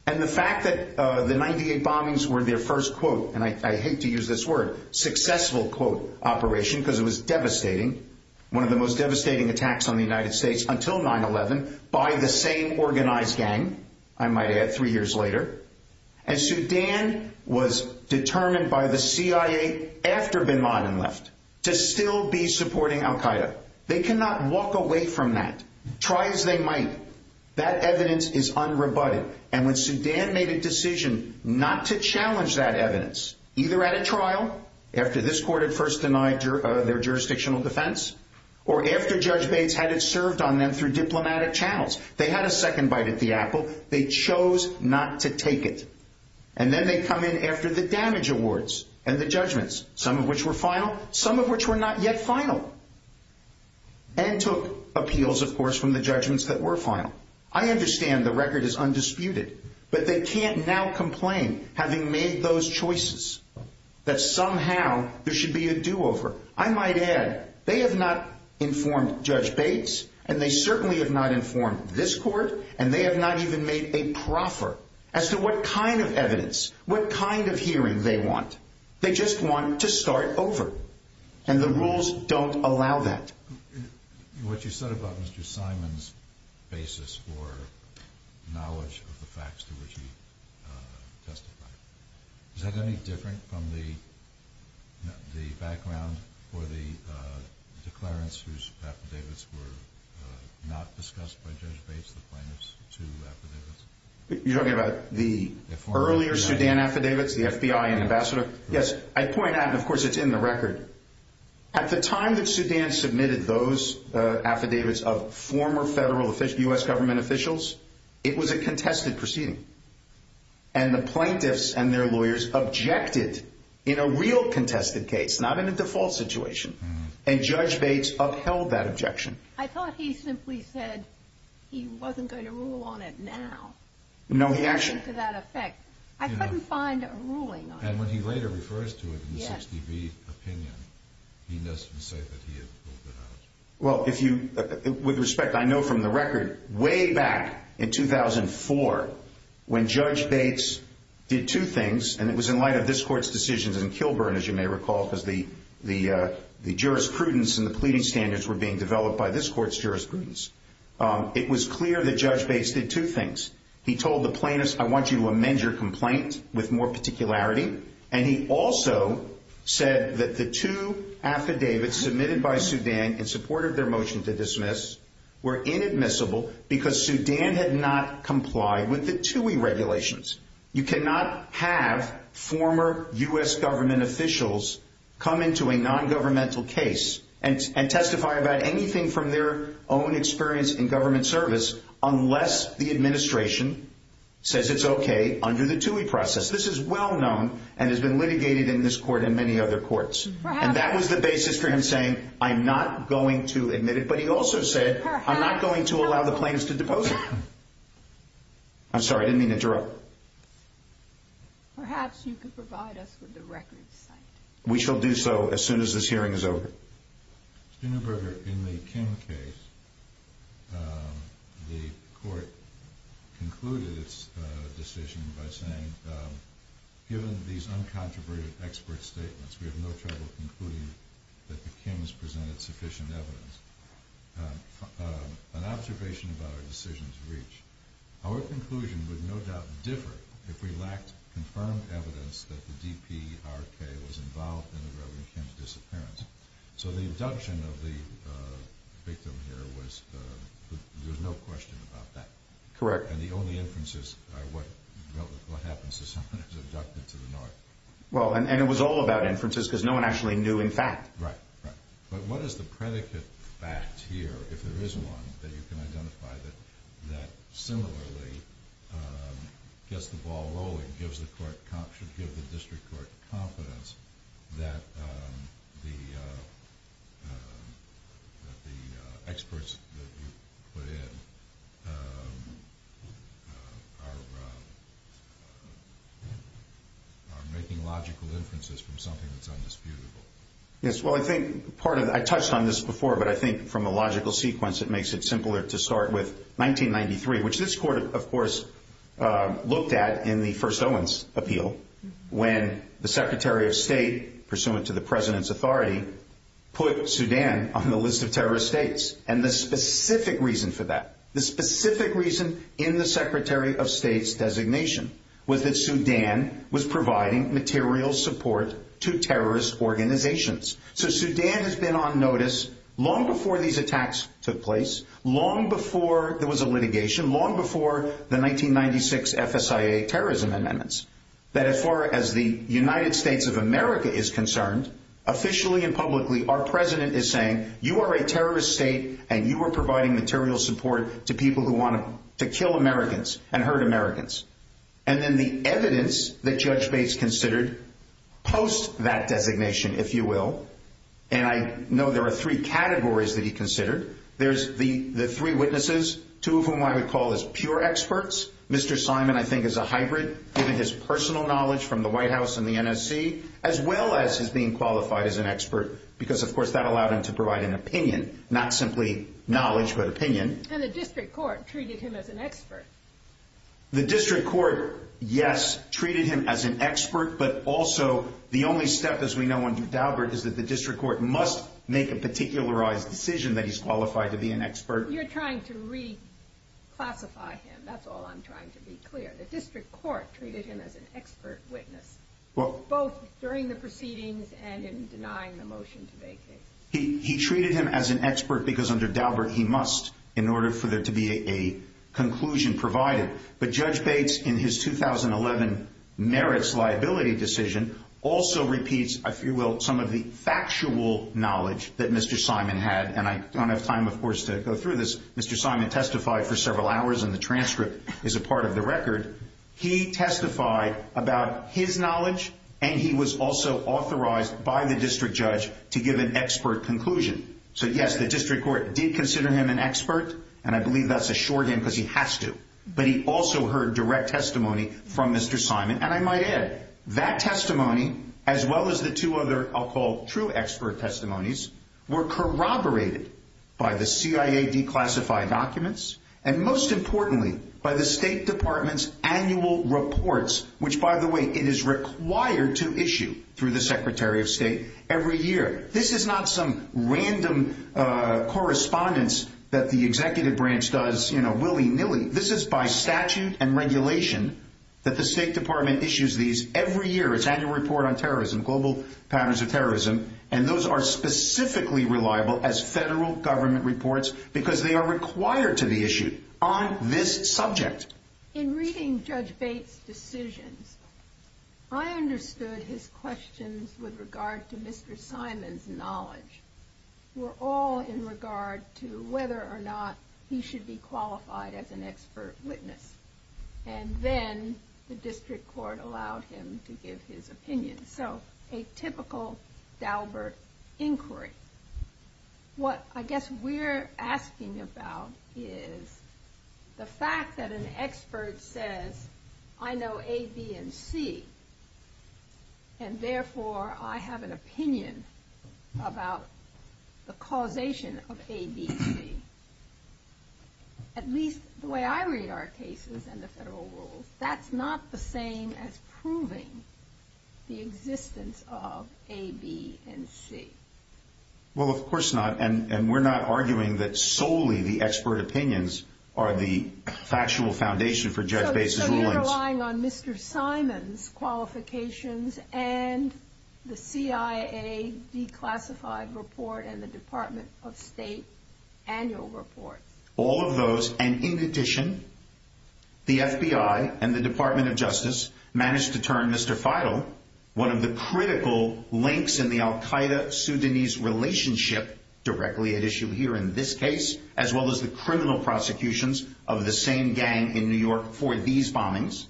And the fact that the 98 bombings were their first, quote, and I hate to use this word, successful, quote, operation because it was devastating, one of the most devastating attacks on the United States until 9-11, by the same organized gang, I might add, three years later. And Sudan was determined by the CIA after Bin Laden left to still be supporting al-Qaeda. They cannot walk away from that. Try as they might. That evidence is unrebutted. And when Sudan made a decision not to challenge that evidence, either at a trial, after this court had first denied their jurisdictional defense, or after Judge Bates had it served on them through diplomatic channels, they had a second bite at the apple. They chose not to take it. And then they come in after the damage awards and the judgments, some of which were final, some of which were not yet final, and took appeals, of course, from the judgments that were final. I understand the record is undisputed. But they can't now complain, having made those choices, that somehow there should be a do-over. I might add, they have not informed Judge Bates, and they certainly have not informed this court, and they have not even made a proffer as to what kind of evidence, what kind of hearing they want. They just want to start over. And the rules don't allow that. What you said about Mr. Simon's basis for knowledge of the facts to which he testified, is that any different from the background for the declarants whose affidavits were not discussed by Judge Bates in the final two affidavits? You're talking about the earlier Sudan affidavits, the FBI ambassador? Yes. I point out, and of course it's in the record, that at the time that Sudan submitted those affidavits of former federal U.S. government officials, it was a contested proceeding. And the plaintiffs and their lawyers objected in a real contested case, not in a default situation. And Judge Bates upheld that objection. I thought he simply said he wasn't going to rule on it now. No, he actually... I couldn't find a ruling on it. And when he later refers to it in the 63 opinion, he does say that he has ruled it out. Well, with respect, I know from the record, way back in 2004, when Judge Bates did two things, and it was in light of this Court's decisions in Kilburn, as you may recall, because the jurisprudence and the pleading standards were being developed by this Court's jurisprudence. It was clear that Judge Bates did two things. He told the plaintiffs, I want you to amend your complaint with more particularity. And he also said that the two affidavits submitted by Sudan in support of their motion to dismiss were inadmissible because Sudan had not complied with the TUI regulations. You cannot have former U.S. government officials come into a nongovernmental case and testify about anything from their own experience in government service unless the administration says it's okay under the TUI process. This is well known and has been litigated in this Court and many other courts. And that was the basis for him saying, I'm not going to admit it. But he also said, I'm not going to allow the plaintiffs to depose me. I'm sorry, I didn't mean to interrupt. Perhaps you could provide us with the record. We shall do so as soon as this hearing is over. Senator Berger, in the King case, the Court concluded its decision by saying, given these uncontroverted expert statements, we have no trouble concluding that the Kings presented sufficient evidence. An observation about our decision to reach, our conclusion would no doubt differ if we lacked confirmed evidence that the DPRK was involved in the Reverend King's disappearance. So the abduction of the victim here was, there's no question about that. Correct. And the only inference is, what happens if someone is abducted to the North? Well, and it was all about inferences because no one actually knew in fact. Right, right. But what is the predicate fact here, if there is one, that you can identify that similarly, just the ball rolling gives the District Court confidence that the experts that you put in are making logical inferences from something that's undisputable. Yes, well I think, pardon, I touched on this before, but I think from a logical sequence, it makes it simpler to start with 1993, which this Court, of course, looked at in the first Owens appeal, when the Secretary of State, pursuant to the President's authority, put Sudan on the list of terrorist states. And the specific reason for that, the specific reason in the Secretary of State's designation, was that Sudan was providing material support to terrorist organizations. So Sudan has been on notice long before these attacks took place, long before there was a litigation, long before the 1996 FSIA terrorism amendments, that as far as the United States of America is concerned, officially and publicly, our President is saying, you are a terrorist state, and you are providing material support to people who want to kill Americans and hurt Americans. And then the evidence that Judge Bates considered post that designation, if you will, and I know there are three categories that he considered. There's the three witnesses, two of whom I would call as pure experts. Mr. Simon, I think, is a hybrid, given his personal knowledge from the White House and the NSC, as well as his being qualified as an expert, because, of course, that allowed him to provide an opinion, not simply knowledge, but opinion. And the District Court treated him as an expert. The District Court, yes, treated him as an expert, but also the only step, as we know under Daubert, is that the District Court must make a particularized decision that he's qualified to be an expert. You're trying to reclassify him. That's all I'm trying to be clear. The District Court treated him as an expert witness, both during the proceedings and in denying the motion to make it. He treated him as an expert because, under Daubert, he must, in order for there to be a conclusion provided. But Judge Bates, in his 2011 merits liability decision, also repeats, if you will, some of the factual knowledge that Mr. Simon had, and I don't have time, of course, to go through this. Mr. Simon testified for several hours, and the transcript is a part of the record. He testified about his knowledge, and he was also authorized by the District Judge to give an expert conclusion. So, yes, the District Court did consider him an expert, and I believe that's a sure thing because he has to. But he also heard direct testimony from Mr. Simon, and I might add, that testimony, as well as the two other, I'll call true expert testimonies, were corroborated by the CIA declassified documents, and most importantly, by the State Department's annual reports, which, by the way, it is required to issue through the Secretary of State every year. This is not some random correspondence that the executive branch does, you know, willy-nilly. This is by statute and regulation that the State Department issues these every year, its annual report on terrorism, global patterns of terrorism, and those are specifically reliable as federal government reports because they are required to be issued on this subject. In reading Judge Bates' decision, I understood his questions with regard to Mr. Simon's knowledge were all in regard to whether or not he should be qualified as an expert witness, and then the District Court allowed him to give his opinion. So, a typical Daubert inquiry. What I guess we're asking about is the fact that an expert says, I know A, B, and C, and therefore I have an opinion about the causation of A, B, and C. At least the way I read our cases and the federal rules. That's not the same as proving the existence of A, B, and C. Well, of course not, and we're not arguing that solely the expert opinions are the factual foundation for Judge Bates' ruling. We're relying on Mr. Simon's qualifications and the CIA declassified report and the Department of State's annual report. All of those, and in addition, the FBI and the Department of Justice managed to turn Mr. Feigl, one of the critical links in the Al-Qaeda-Sudanese relationship directly at issue here in this case, as well as the criminal prosecutions of the same gang in New York for these bombings.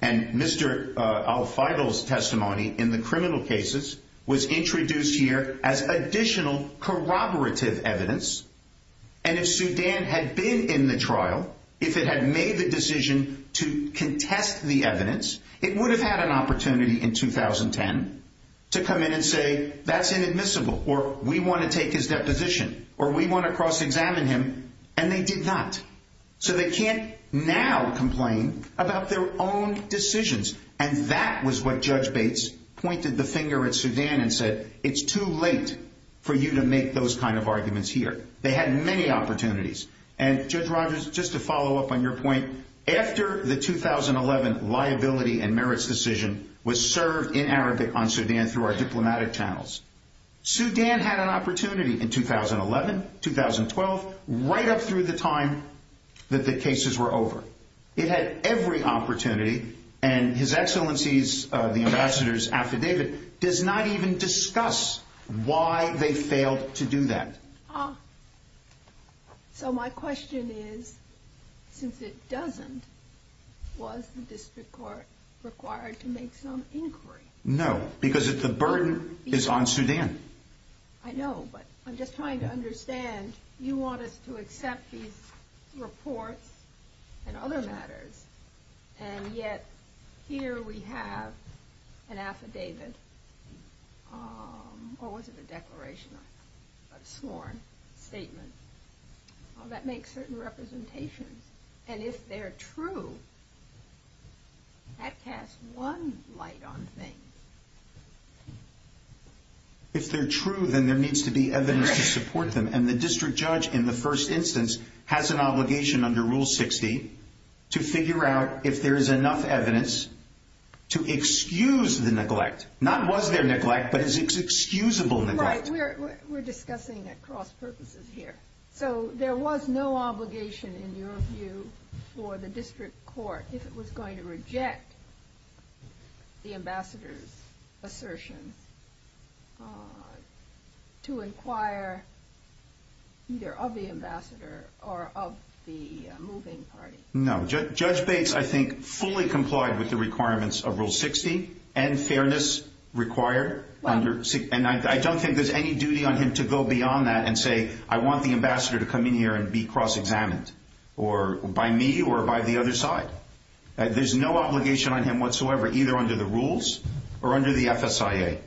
And Mr. Al-Feigl's testimony in the criminal cases was introduced here as additional corroborative evidence, and if Sudan had been in the trial, if it had made the decision to contest the evidence, it would have had an opportunity in 2010 to come in and say, that's inadmissible, or we want to take his deposition, or we want to cross-examine him, and they did not. So they can't now complain about their own decisions, and that was what Judge Bates pointed the finger at Sudan and said, it's too late for you to make those kind of arguments here. They had many opportunities, and Judge Rogers, just to follow up on your point, after the 2011 liability and merits decision was served in Arabic on Sudan through our diplomatic channels. Sudan had an opportunity in 2011, 2012, right up through the time that the cases were over. It had every opportunity, and His Excellency's, the Ambassador's affidavit does not even discuss why they failed to do that. So my question is, since it doesn't, was the district court required to make some inquiry? No, because the burden is on Sudan. I know, but I'm just trying to understand, you want us to accept these reports and other matters, and yet here we have an affidavit, or was it a declaration, a sworn statement, that makes certain representation, and if they're true, that casts one light on things. If they're true, then there needs to be evidence to support them, and the district judge, in the first instance, has an obligation under Rule 60 to figure out if there is enough evidence to excuse the neglect. Not was there neglect, but is it excusable neglect? Right, we're discussing at cross purposes here. So there was no obligation, in your view, for the district court, if it was going to reject the Ambassador's assertion, to inquire either of the Ambassador or of the moving party? No, Judge Bates, I think, fully complied with the requirements of Rule 60, and fairness required, and I don't think there's any duty on him to go beyond that and say, I want the Ambassador to come in here and be cross-examined by me or by the other side. There's no obligation on him whatsoever, either under the rules or under the FSIA,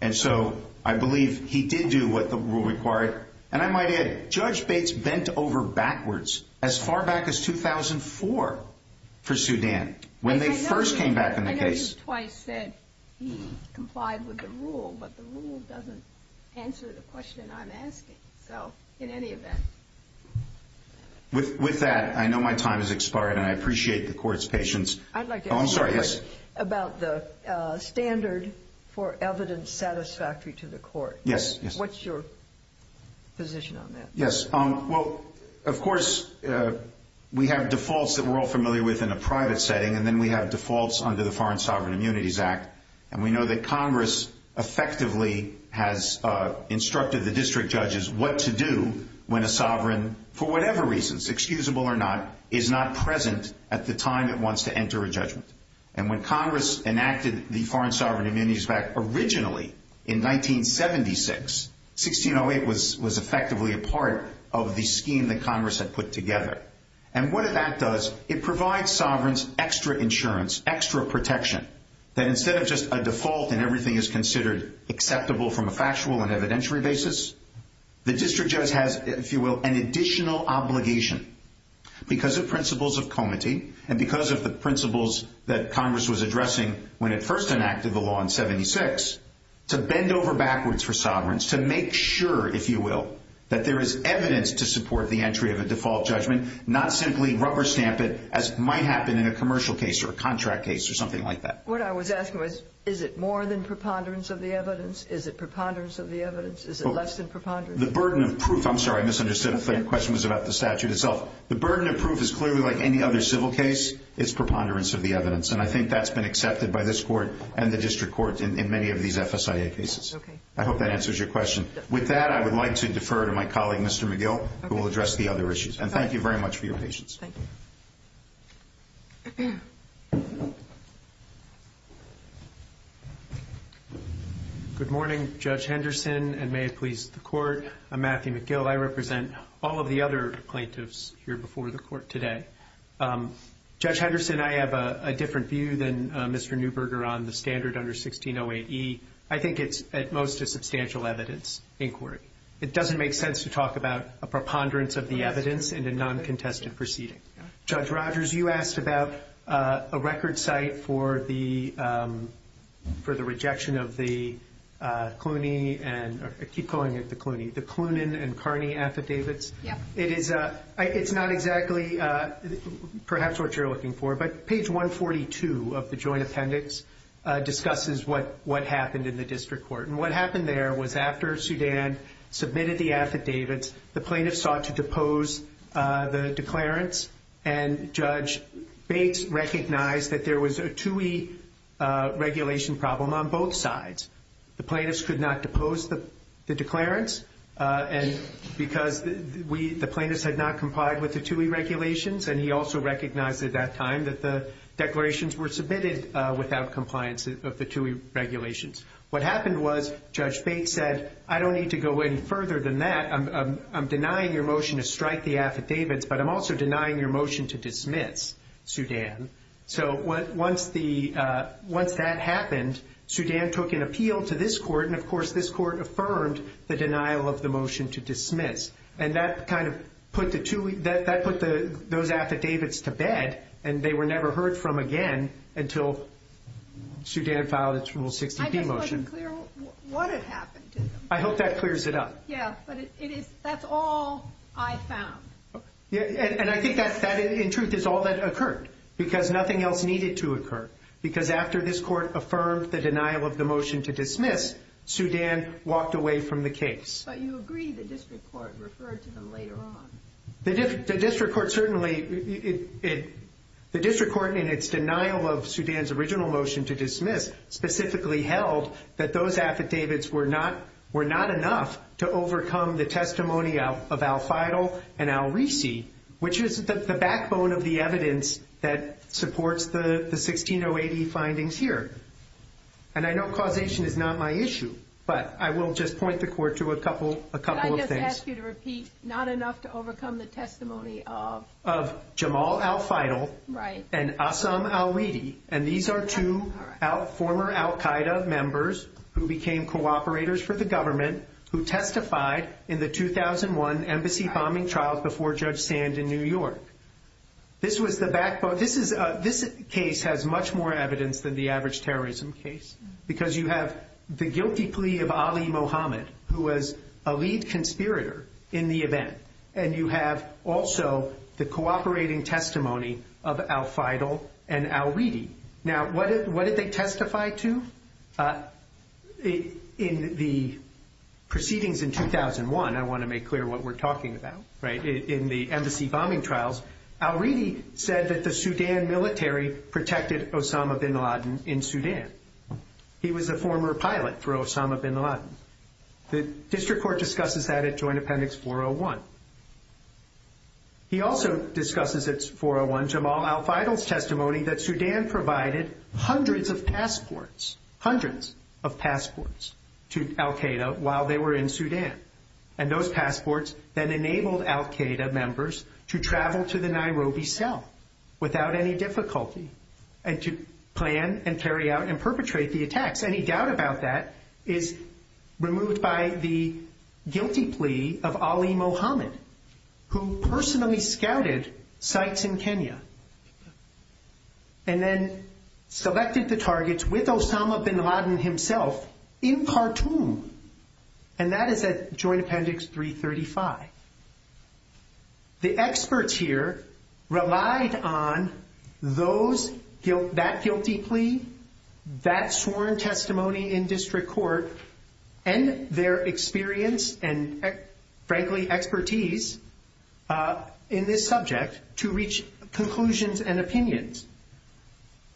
and so I believe he did do what the rule required, and I might add, Judge Bates bent over backwards as far back as 2004 for Sudan, when they first came back in the case. He's twice said he complied with the rule, but the rule doesn't answer the question I'm asking. So, in any event. With that, I know my time has expired, and I appreciate the court's patience. I'd like to ask you about the standard for evidence satisfactory to the court. Yes, yes. What's your position on that? Yes, well, of course, we have defaults that we're all familiar with in a private setting, and then we have defaults under the Foreign Sovereign Immunities Act, and we know that Congress effectively has instructed the district judges what to do when a sovereign, for whatever reasons, excusable or not, is not present at the time it wants to enter a judgment. And when Congress enacted the Foreign Sovereign Immunities Act originally in 1976, 1608 was effectively a part of the scheme that Congress had put together. And what that does, it provides sovereigns extra insurance, extra protection, that instead of just a default and everything is considered acceptable from a factual and evidentiary basis, the district judge has, if you will, an additional obligation because of principles of comity and because of the principles that Congress was addressing when it first enacted the law in 76, to bend over backwards for sovereigns, to make sure, if you will, that there is evidence to support the entry of a default judgment, not simply rubber stamp it as might happen in a commercial case or a contract case or something like that. What I was asking was, is it more than preponderance of the evidence? Is it preponderance of the evidence? Is it less than preponderance? The burden of proof, I'm sorry, I misunderstood. I thought your question was about the statute itself. The burden of proof is clearly, like any other civil case, is preponderance of the evidence, and I think that's been accepted by this Court and the district courts in many of these FSIA cases. I hope that answers your question. With that, I would like to defer to my colleague, Mr. McGill, who will address the other issues, and thank you very much for your patience. Good morning, Judge Henderson, and may it please the Court. I'm Matthew McGill. I represent all of the other plaintiffs here before the Court today. Judge Henderson, I have a different view than Mr. Neuberger on the standard under 1608E. I think it's at most a substantial evidence inquiry. It doesn't make sense to talk about a preponderance of the evidence in a non-contested proceeding. Judge Rogers, you asked about a record site for the rejection of the Clooney, or I keep calling it the Clooney, the Clooney and Carney affidavits. Yes. It's not exactly perhaps what you're looking for, but page 142 of the joint appendix discusses what happened in the district court, and what happened there was after Sudan submitted the affidavits, the plaintiffs sought to depose the declarants, and Judge Bates recognized that there was a 2E regulation problem on both sides. The plaintiffs could not depose the declarants because the plaintiffs had not complied with the 2E regulations, and he also recognized at that time that the declarations were submitted without compliance of the 2E regulations. What happened was Judge Bates said, I don't need to go any further than that. I'm denying your motion to strike the affidavits, but I'm also denying your motion to dismiss Sudan. So once that happened, Sudan took an appeal to this court, and, of course, this court affirmed the denial of the motion to dismiss, and that kind of put those affidavits to bed, and they were never heard from again until Sudan filed its Rule 60P motion. I hope that clears it up. Yes, but that's all I found. And I think that, in truth, is all that occurred because nothing else needed to occur because after this court affirmed the denial of the motion to dismiss, Sudan walked away from the case. But you agree the district court referred to them later on. The district court certainly – the district court, in its denial of Sudan's original motion to dismiss, specifically held that those affidavits were not enough to overcome the testimony of al-Faidal and al-Risi, which is the backbone of the evidence that supports the 1608E findings here. And I know causation is not my issue, but I will just point the court to a couple of things. I just ask you to repeat, not enough to overcome the testimony of? Of Jamal al-Faidal and Assam al-Risi, and these are two former al-Qaeda members who became cooperators for the government who testified in the 2001 embassy bombing trial before Judge Sand in New York. This was the backbone. This case has much more evidence than the average terrorism case because you have the guilty plea of Ali Mohammed, who was a lead conspirator in the event, and you have also the cooperating testimony of al-Faidal and al-Risi. Now, what did they testify to in the proceedings in 2001? I want to make clear what we're talking about. In the embassy bombing trials, al-Risi said that the Sudan military protected Osama bin Laden in Sudan. He was a former pilot for Osama bin Laden. The district court discusses that at Joint Appendix 401. He also discusses at 401 Jamal al-Faidal's testimony that Sudan provided hundreds of passports, hundreds of passports to al-Qaeda while they were in Sudan, and those passports then enabled al-Qaeda members to travel to the Nairobi cell without any difficulty and to plan and carry out and perpetrate the attacks. Any doubt about that is removed by the guilty plea of Ali Mohammed, who personally scouted sites in Kenya and then selected the targets with Osama bin Laden himself in Khartoum, and that is at Joint Appendix 335. The experts here relied on that guilty plea, that sworn testimony in district court, and their experience and, frankly, expertise in this subject to reach conclusions and opinions.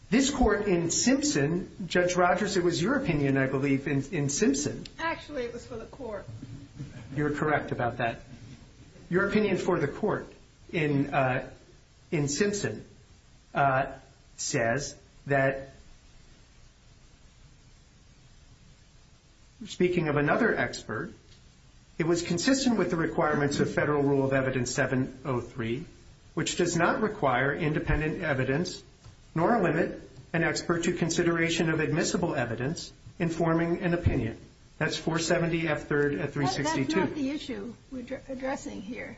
This court in Simpson, Judge Rogers, it was your opinion, I believe, in Simpson. Actually, it was for the court. You're correct about that. Your opinion for the court in Simpson says that, speaking of another expert, it was consistent with the requirements of federal rule of evidence 703, which does not require independent evidence nor limit an expert to consideration of admissible evidence informing an opinion. That's 470F3 at 362. Well, that's not the issue we're addressing here.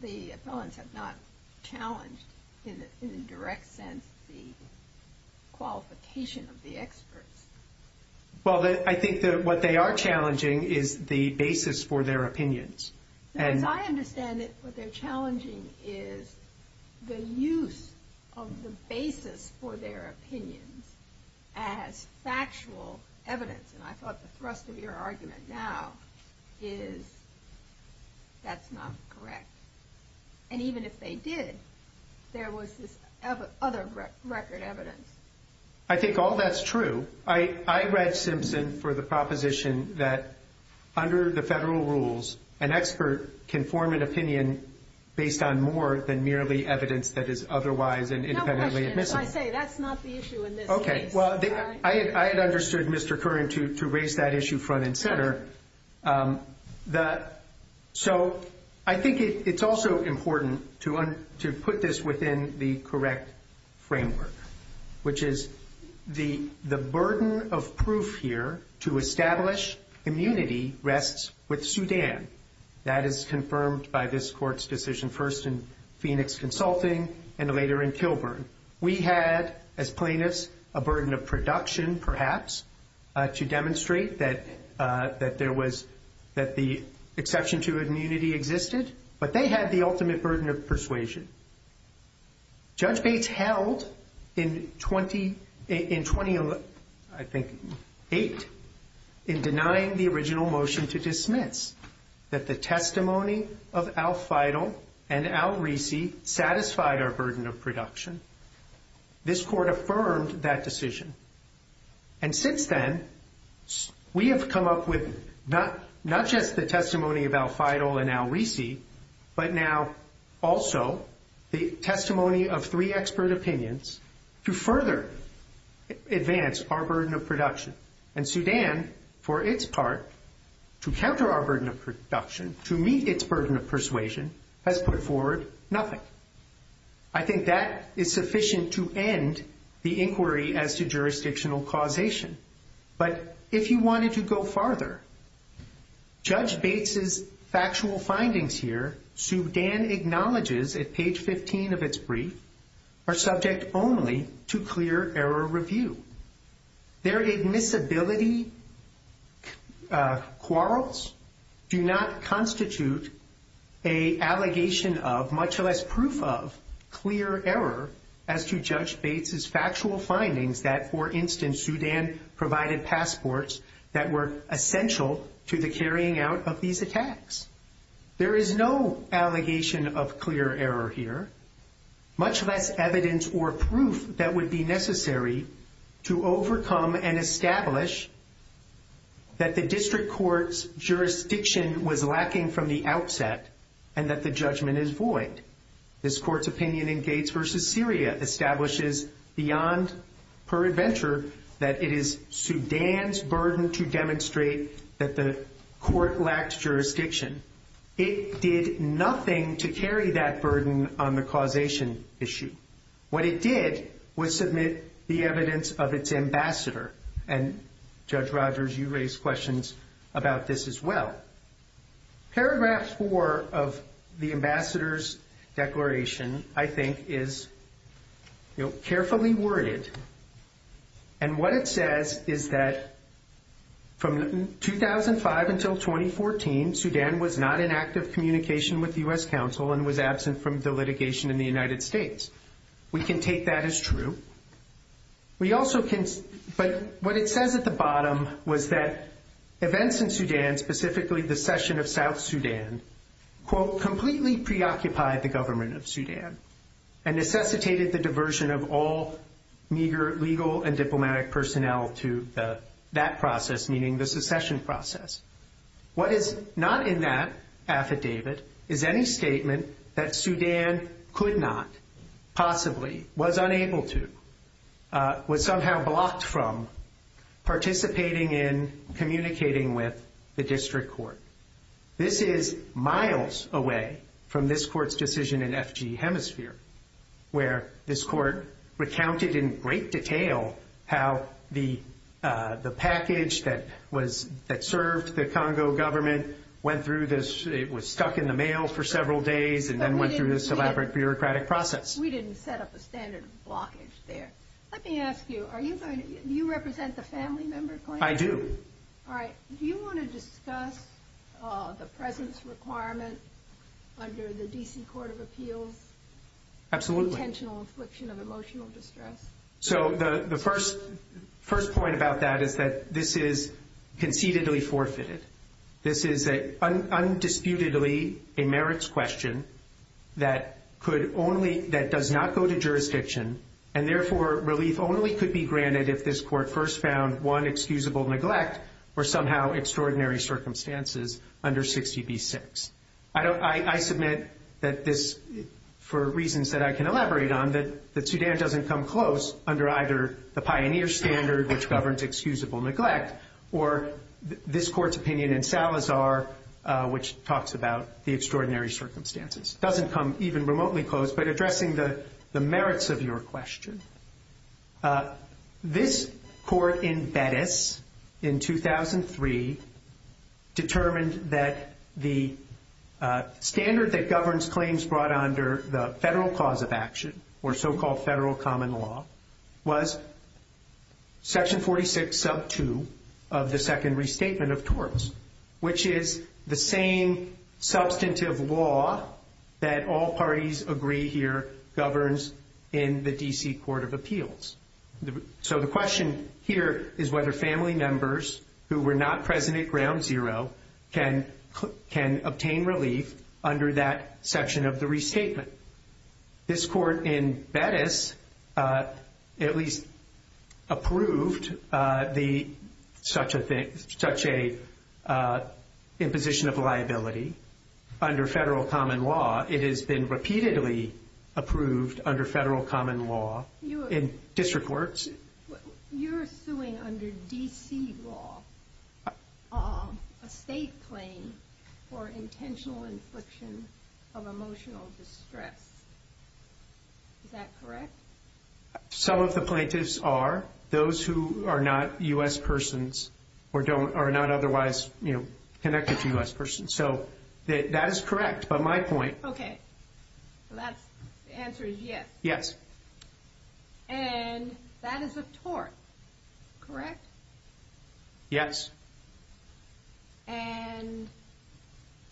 The appellants have not challenged in a direct sense the qualification of the experts. Well, I think that what they are challenging is the basis for their opinions. And I understand that what they're challenging is the use of the basis for their opinion as factual evidence, and I thought the thrust of your argument now is that's not correct. And even if they did, there was this other record evidence. I think all that's true. I read Simpson for the proposition that under the federal rules, an expert can form an opinion based on more than merely evidence that is otherwise independently admissible. That's not the issue in this case. Okay. Well, I understood Mr. Curran to raise that issue front and center. So I think it's also important to put this within the correct framework, which is the burden of proof here to establish immunity rests with Sudan. That is confirmed by this court's decision first in Phoenix Consulting and later in Kilburn. We had, as plaintiffs, a burden of production, perhaps, to demonstrate that there was the exception to immunity existed, but they had the ultimate burden of persuasion. Judge Page held in 2008 in denying the original motion to dismiss, that the testimony of al-Faidal and al-Risi satisfied our burden of production. This court affirmed that decision. And since then, we have come up with not just the testimony of al-Faidal and al-Risi, but now also the testimony of three expert opinions to further advance our burden of production. And Sudan, for its part, to counter our burden of production, to meet its burden of persuasion, has put forward nothing. I think that is sufficient to end the inquiry as to jurisdictional causation. But if you wanted to go farther, Judge Bates' factual findings here, Sudan acknowledges at page 15 of its brief, are subject only to clear error review. Their admissibility quarrels do not constitute an allegation of, much less proof of, clear error as to Judge Bates' factual findings that, for instance, Sudan provided passports that were essential to the carrying out of these attacks. There is no allegation of clear error here, much less evidence or proof that would be necessary to overcome and establish that the district court's jurisdiction was lacking from the outset and that the judgment is void. This court's opinion in Gates v. Syria establishes beyond her adventure that it is Sudan's burden to demonstrate that the court lacks jurisdiction. It did nothing to carry that burden on the causation issue. What it did was submit the evidence of its ambassador. And Judge Rogers, you raised questions about this as well. Paragraph four of the ambassador's declaration, I think, is carefully worded. And what it says is that from 2005 until 2014, Sudan was not in active communication with the U.S. Council and was absent from the litigation in the United States. We can take that as true. But what it says at the bottom was that events in Sudan, specifically the session of South Sudan, completely preoccupied the government of Sudan and necessitated the diversion of all legal and diplomatic personnel to that process, meaning the succession process. What is not in that affidavit is any statement that Sudan could not, possibly, was unable to, was somehow blocked from, participating in communicating with the district court. This is miles away from this court's decision in FGE Hemisphere, where this court recounted in great detail how the package that served the Congo government went through this, it was stuck in the mail for several days and then went through this elaborate bureaucratic process. We didn't set up a standard of blockage there. Let me ask you, are you going to, do you represent the family member claim? I do. All right. Do you want to discuss the presence requirement under the D.C. Court of Appeals? Absolutely. Intentional infliction of emotional distress. So the first point about that is that this is conceitedly forfeited. This is undisputedly a merits question that could only, that does not go to jurisdiction and, therefore, relief only could be granted if this court first found one excusable neglect or somehow extraordinary circumstances under 60B6. I submit that this, for reasons that I can elaborate on, that Sudan doesn't come close under either the pioneer standard, which governs excusable neglect, or this court's opinion in Salazar, which talks about the extraordinary circumstances. It doesn't come even remotely close, but addressing the merits of your question. This court in Venice in 2003 determined that the standard that governs claims brought under the federal cause of action, or so-called federal common law, was section 46 sub 2 of the second restatement of torts, which is the same substantive law that all parties agree here governs in the D.C. Court of Appeals. So the question here is whether family members who were not present at ground zero can obtain relief under that section of the restatement. This court in Venice at least approved such an imposition of liability under federal common law. It has been repeatedly approved under federal common law in district courts. You're suing under D.C. law a state claim for intentional infliction of emotional distress. Is that correct? Some of the plaintiffs are. Those who are not U.S. persons or are not otherwise connected to U.S. persons. So that is correct, but my point... Okay. The answer is yes. Yes. And that is a tort, correct? Yes. And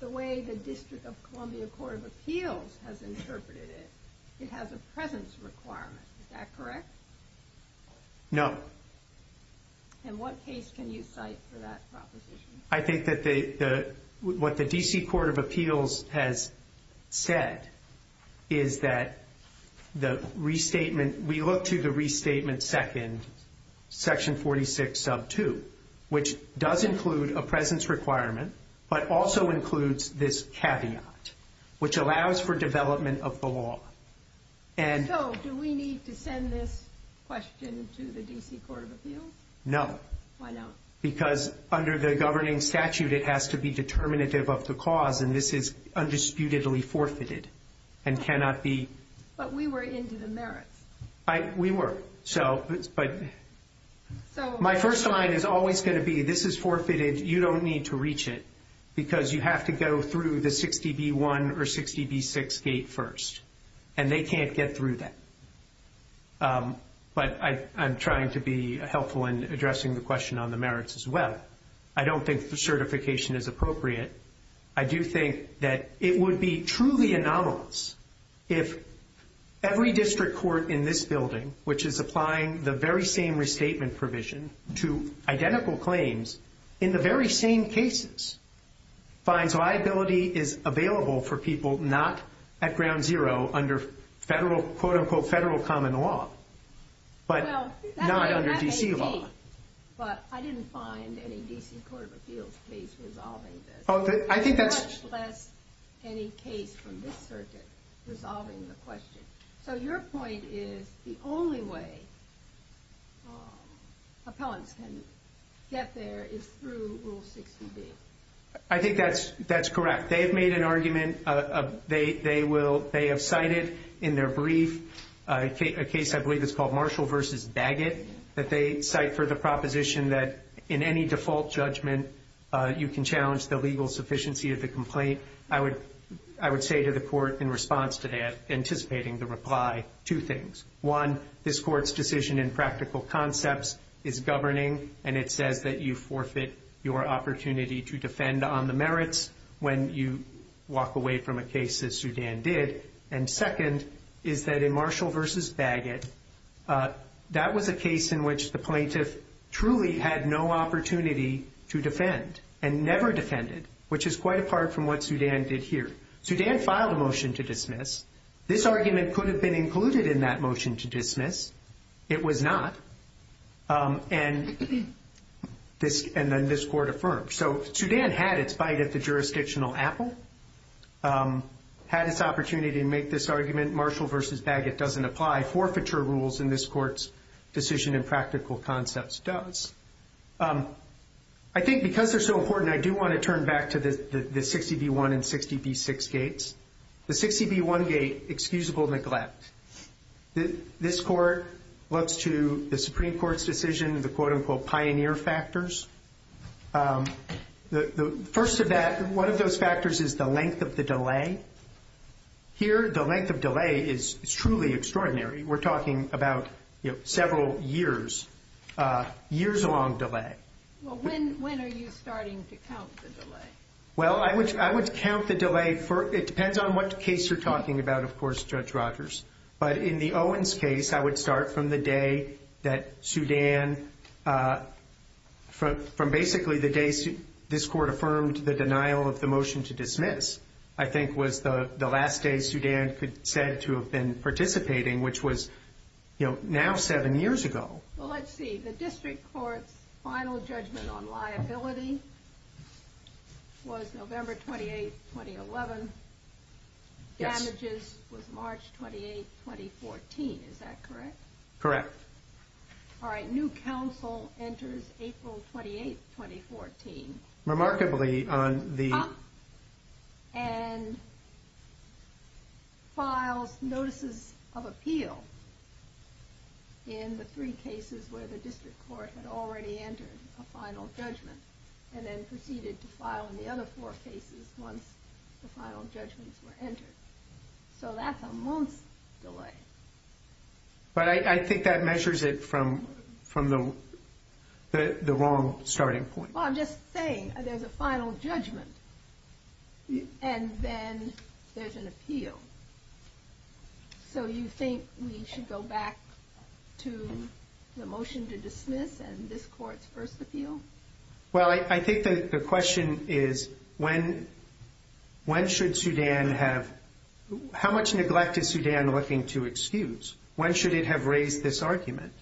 the way the District of Columbia Court of Appeals has interpreted it, it has a presence requirement. Is that correct? No. And what case can you cite for that proposition? I think that what the D.C. Court of Appeals has said is that the restatement, we look to the restatement second, section 46 sub 2, which does include a presence requirement, but also includes this caveat, which allows for development of the law. So do we need to send this question to the D.C. Court of Appeals? No. Why not? Because under the governing statute, it has to be determinative of the cause, and this is undisputedly forfeited and cannot be... But we were into the merit. We were, but my first line is always going to be, this is forfeited. You don't need to reach it because you have to go through the 60B1 or 60B6 gate first, and they can't get through that. But I'm trying to be helpful in addressing the question on the merits as well. I don't think the certification is appropriate. I do think that it would be truly anomalous if every district court in this building, which is applying the very same restatement provision to identical claims in the very same cases, finds liability is available for people not at ground zero under federal, quote-unquote, federal common law, but not under D.C. law. But I didn't find any D.C. Court of Appeals case resolving this. I think that's... Much less any case from this circuit resolving the question. So your point is the only way appellants can get there is through Rule 60B. I think that's correct. They have made an argument. They have cited in their brief a case I believe is called Marshall v. Bagot, that they cite for the proposition that in any default judgment, you can challenge the legal sufficiency of the complaint. I would say to the court in response to that, anticipating the reply, two things. One, this court's decision in practical concepts is governing, and it says that you forfeit your opportunity to defend on the merits when you walk away from a case as Sudan did. And second is that in Marshall v. Bagot, that was a case in which the plaintiff truly had no opportunity to defend and never defended, which is quite apart from what Sudan did here. Sudan filed a motion to dismiss. This argument could have been included in that motion to dismiss. It was not. And then this court affirmed. So Sudan had its fight at the jurisdictional apple, had its opportunity to make this argument. Marshall v. Bagot doesn't apply. Forfeiture rules in this court's decision in practical concepts does. I think because they're so important, I do want to turn back to the 60B1 and 60B6 gates. The 60B1 gate, excusable neglect. This court looks to the Supreme Court's decision, the quote-unquote pioneer factors. The first of that, one of those factors is the length of the delay. Here, the length of delay is truly extraordinary. We're talking about, you know, several years, years-long delay. Well, when are you starting to count the delay? Well, I would count the delay. It depends on what case you're talking about, of course, Judge Rogers. But in the Owens case, I would start from the day that Sudan, from basically the day this court affirmed the denial of the motion to dismiss, I think was the last day Sudan said to have been participating, which was, you know, now seven years ago. Well, let's see. The district court's final judgment on liability was November 28, 2011. Damages was March 28, 2014. Is that correct? Correct. All right. New counsel enters April 28, 2014. Remarkably on the... cases where the district court had already entered a final judgment and then proceeded to file in the other four cases once the final judgments were entered. So that's a month's delay. But I think that measures it from the wrong starting point. Well, I'm just saying there's a final judgment and then there's an appeal. So you think we should go back to the motion to dismiss and this court's first appeal? Well, I think the question is when should Sudan have... How much neglect is Sudan looking to excuse? When should it have raised this argument?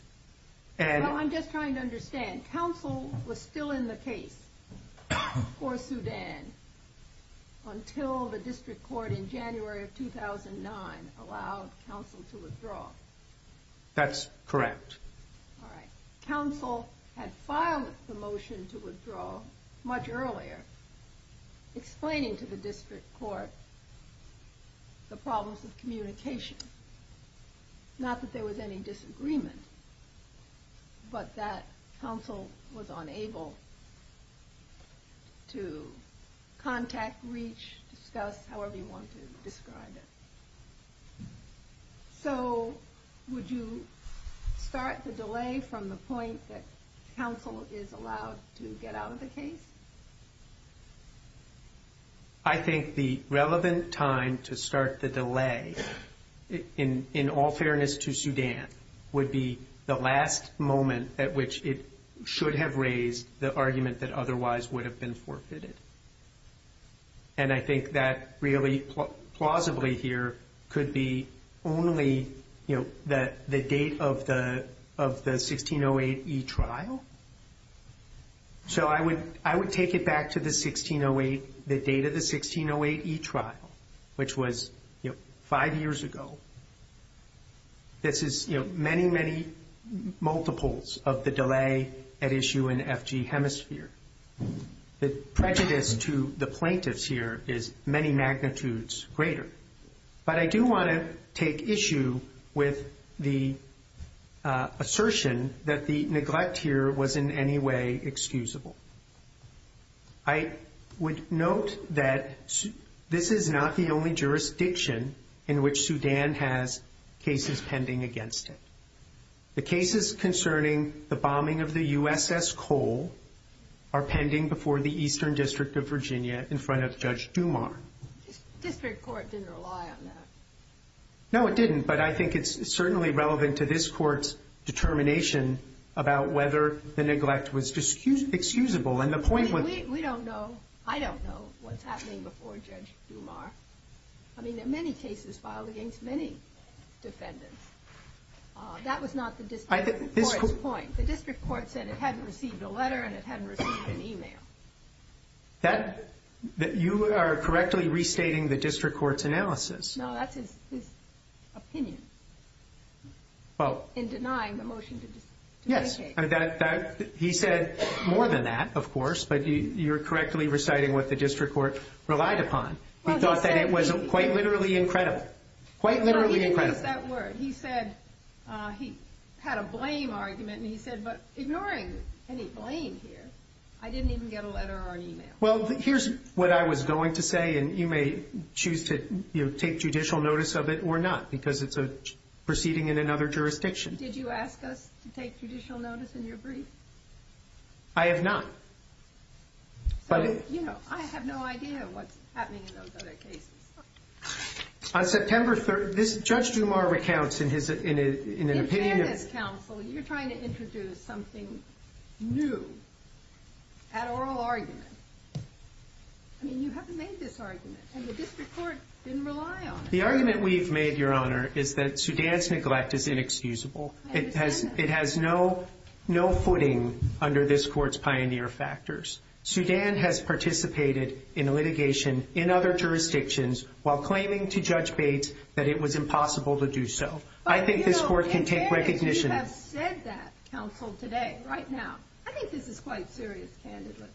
I'm just trying to understand. And counsel was still in the case for Sudan until the district court in January of 2009 allowed counsel to withdraw. That's correct. All right. Counsel had filed the motion to withdraw much earlier, explaining to the district court the problems with communication. Not that there was any disagreement, but that counsel was unable to contact, reach, discuss, however you want to describe it. So would you start the delay from the point that counsel is allowed to get out of the case? I think the relevant time to start the delay, in all fairness to Sudan, would be the last moment at which it should have raised the argument that otherwise would have been forfeited. And I think that really plausibly here could be only the date of the 1608E trial. So I would take it back to the 1608, the date of the 1608E trial, which was five years ago. This is many, many multiples of the delay at issue in the FG hemisphere. The prejudice to the plaintiffs here is many magnitudes greater. But I do want to take issue with the assertion that the neglect here was in any way excusable. I would note that this is not the only jurisdiction in which Sudan has cases pending against it. The cases concerning the bombing of the USS Cole are pending before the Eastern District of Virginia in front of Judge Dumas. The district court didn't rely on that. No, it didn't. But I think it's certainly relevant to this court's determination about whether the neglect was excusable. And the point was... We don't know. I don't know what's happening before Judge Dumas. I mean, there are many cases filed against many defendants. That was not the district court's point. You are correctly restating the district court's analysis. No, that's his opinion in denying the motion to mediate. Yes. He said more than that, of course, but you're correctly reciting what the district court relied upon. He thought that it was quite literally incredible. Quite literally incredible. He said he had a blame argument, and he said, but ignoring any blame here, I didn't even get a letter or e-mail. Well, here's what I was going to say, and you may choose to take judicial notice of it or not because it's a proceeding in another jurisdiction. Did you ask us to take judicial notice in your brief? I have not. You know, I have no idea what's happening with those other cases. On September 3rd, Judge Dumas recounts in an opinion. You're trying to introduce something new, an oral argument. I mean, you haven't made this argument, and the district court didn't rely on it. The argument we've made, Your Honor, is that Sudan's neglect is inexcusable. It has no footing under this court's pioneer factors. Sudan has participated in litigation in other jurisdictions while claiming to Judge Bates that it was impossible to do so. I think this court can take recognition of that. I think this is quite serious, Candidate.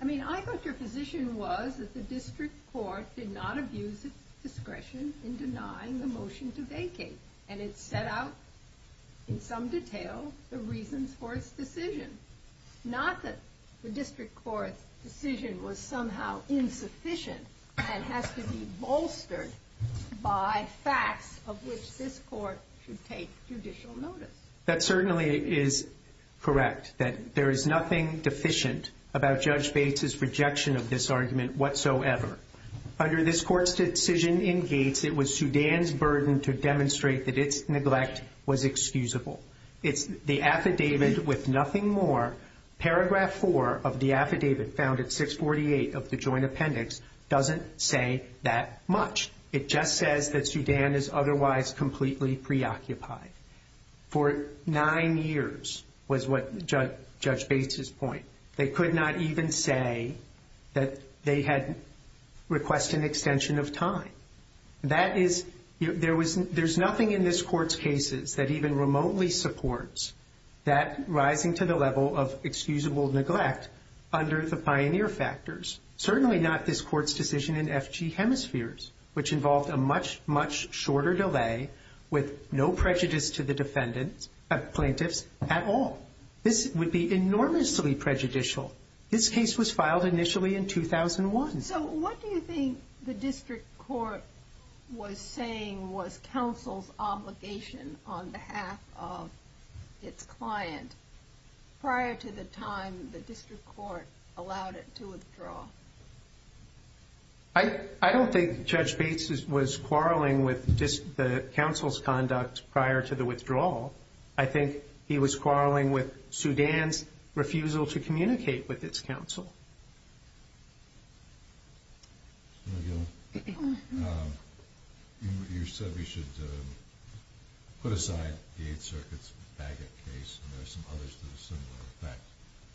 I mean, I guess your position was that the district court did not abuse its discretion in denying the motion to vacate, and it set out in some detail the reasons for its decision. Not that the district court's decision was somehow insufficient and has to be bolstered by facts of which this court should take judicial notice. That certainly is correct, that there is nothing deficient about Judge Bates' projection of this argument whatsoever. Under this court's decision in Gates, it was Sudan's burden to demonstrate that its neglect was excusable. It's the affidavit with nothing more. Paragraph 4 of the affidavit found at 648 of the joint appendix doesn't say that much. It just says that Sudan is otherwise completely preoccupied. For nine years was what Judge Bates' point. They could not even say that they had requested an extension of time. There's nothing in this court's cases that even remotely supports that rising to the level of excusable neglect under the pioneer factors. Certainly not this court's decision in FG Hemispheres, which involved a much, much shorter delay with no prejudice to the plaintiff at all. This would be enormously prejudicial. This case was filed initially in 2001. So what do you think the district court was saying was counsel's obligation on behalf of its client prior to the time the district court allowed it to withdraw? I don't think Judge Bates was quarreling with the counsel's conduct prior to the withdrawal. I think he was quarreling with Sudan's refusal to communicate with its counsel. You said we should put aside the 8th Circuit's Bagot case, and there are some others that are similar. In fact,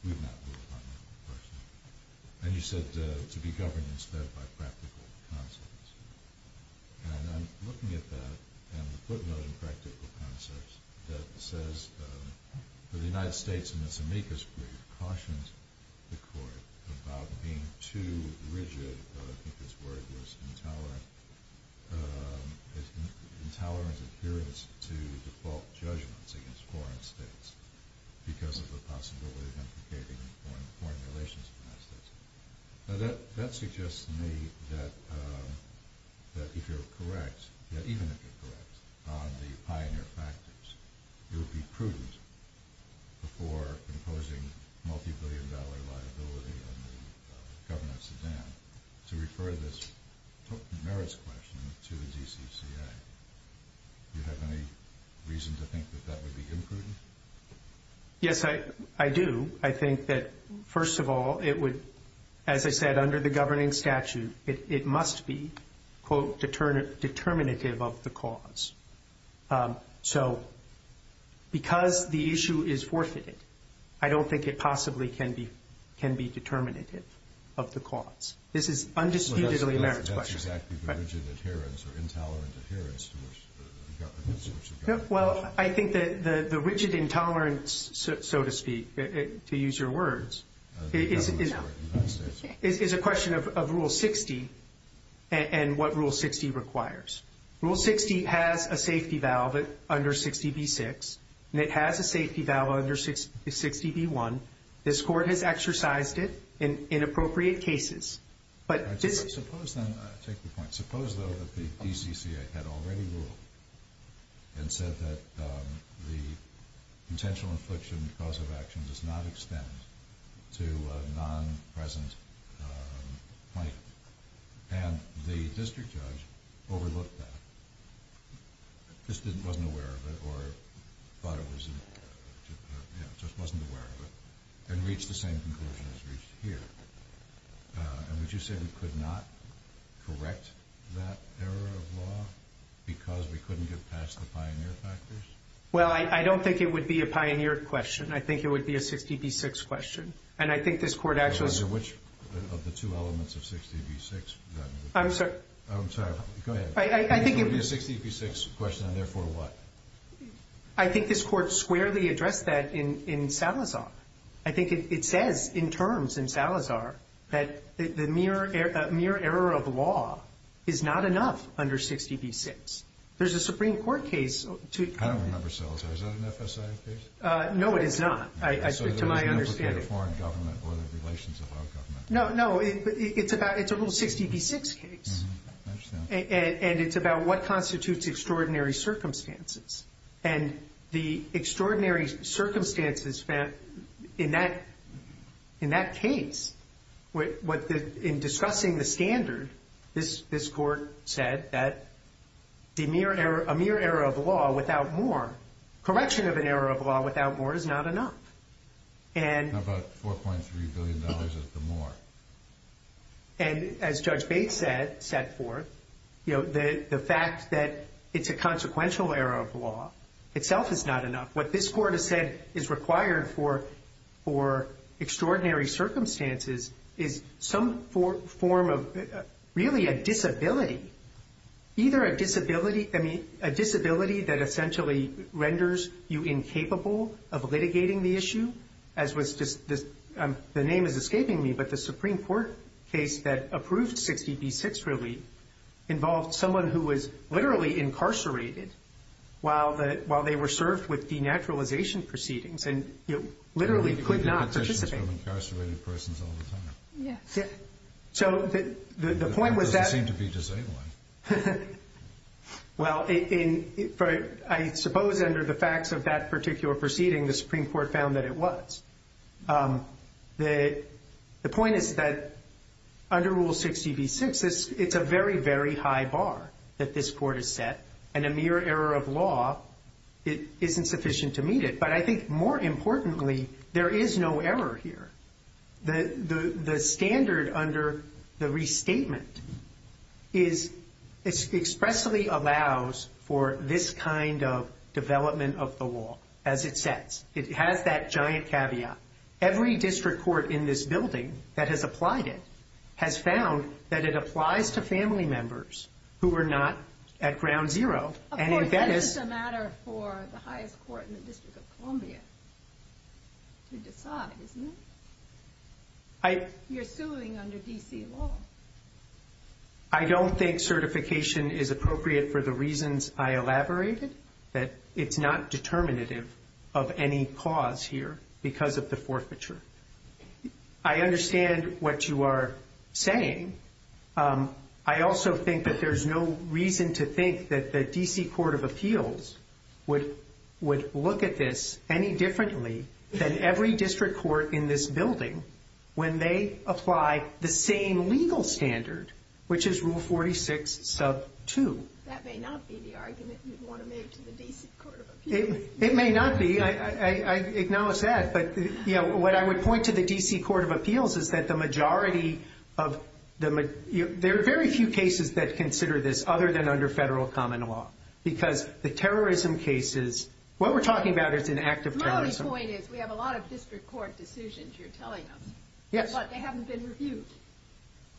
we've not heard about that in person. And you said to be governed instead by practical concepts. And I'm looking at that and the footnote in practical concepts that says the United States in its amicus brief cautions the court about being too rigid. I think this word was intolerant. It's an intolerant appearance to default judgments against foreign states because of the possibility of implicating foreign relations. Now, that suggests to me that if you're correct, that even if you're correct on the pioneer factors, it would be prudent before imposing multibillion-dollar liability on the government of Sudan to refer this merits question to the DCCA. Do you have any reason to think that that would be imprudent? Yes, I do. I mean, I think that, first of all, it would, as I said, under the governing statute, it must be, quote, determinative of the cause. So because the issue is forth to me, I don't think it possibly can be determinative of the cause. This is undisputedly a merits question. That's exactly the rigid appearance or intolerant appearance to which the government is in charge. Well, I think that the rigid intolerance, so to speak, to use your words, is a question of Rule 60 and what Rule 60 requires. Rule 60 has a safety valve under 60B6, and it has a safety valve under 60B1. This court has exercised it in appropriate cases. I take your point. Suppose the DCCA had already ruled and said that the potential infliction clause of action does not extend to a non-present plaintiff, and the district judge overlooked that, just wasn't aware of it, or thought it was important, just wasn't aware of it, and reached the same conclusion as reached here. And would you say we could not correct that error of law because we couldn't get past the pioneer factors? Well, I don't think it would be a pioneer question. I think it would be a 60B6 question, and I think this court actually… Which of the two elements of 60B6? I'm sorry. I'm sorry. Go ahead. I think it would be a 60B6 question, and therefore what? I think this court squarely addressed that in Salazar. I think it says in terms in Salazar that the mere error of law is not enough under 60B6. There's a Supreme Court case to… I don't remember Salazar. Is that an FSA case? No, it is not, to my understanding. So there's an implication of foreign government or the relations of foreign government? No, no. It's a little 60B6 case. I understand. And it's about what constitutes extraordinary circumstances. And the extraordinary circumstances in that case, in discussing the standard, this court said that a mere error of law without more, correction of an error of law without more is not enough. And about $4.3 billion is the more. And as Judge Bates said, you know, the fact that it's a consequential error of law itself is not enough. What this court has said is required for extraordinary circumstances is some form of really a disability, either a disability that essentially renders you incapable of litigating the issue, as was just the name is escaping me, but the Supreme Court case that approved 60B6 relief involved someone who was literally incarcerated while they were served with denaturalization proceedings and literally could not participate. We hear these questions from incarcerated persons all the time. Yeah. So the point was that… They don't seem to be disabled. Well, I suppose under the facts of that particular proceeding, the Supreme Court found that it was. The point is that under Rule 60B6, it's a very, very high bar that this court has set. And a mere error of law isn't sufficient to meet it. But I think more importantly, there is no error here. The standard under the restatement is it expressly allows for this kind of development of the law, as it says. It has that giant caveat. Every district court in this building that has applied it has found that it applies to family members who are not at ground zero. Of course, that's just a matter for the highest court in the District of Columbia to decide, isn't it? You're suing under D.C. law. I don't think certification is appropriate for the reasons I elaborated. It's not determinative of any cause here because of the forfeiture. I understand what you are saying. I also think that there's no reason to think that the D.C. Court of Appeals would look at this any differently than every district court in this building when they apply the same legal standard, which is Rule 46 sub 2. That may not be the argument you want to make to the D.C. Court of Appeals. It may not be. I acknowledge that. What I would point to the D.C. Court of Appeals is that there are very few cases that consider this other than under federal common law. Because the terrorism cases, what we're talking about is an act of terrorism. My only point is we have a lot of district court decisions, you're telling them, but they haven't been reviewed.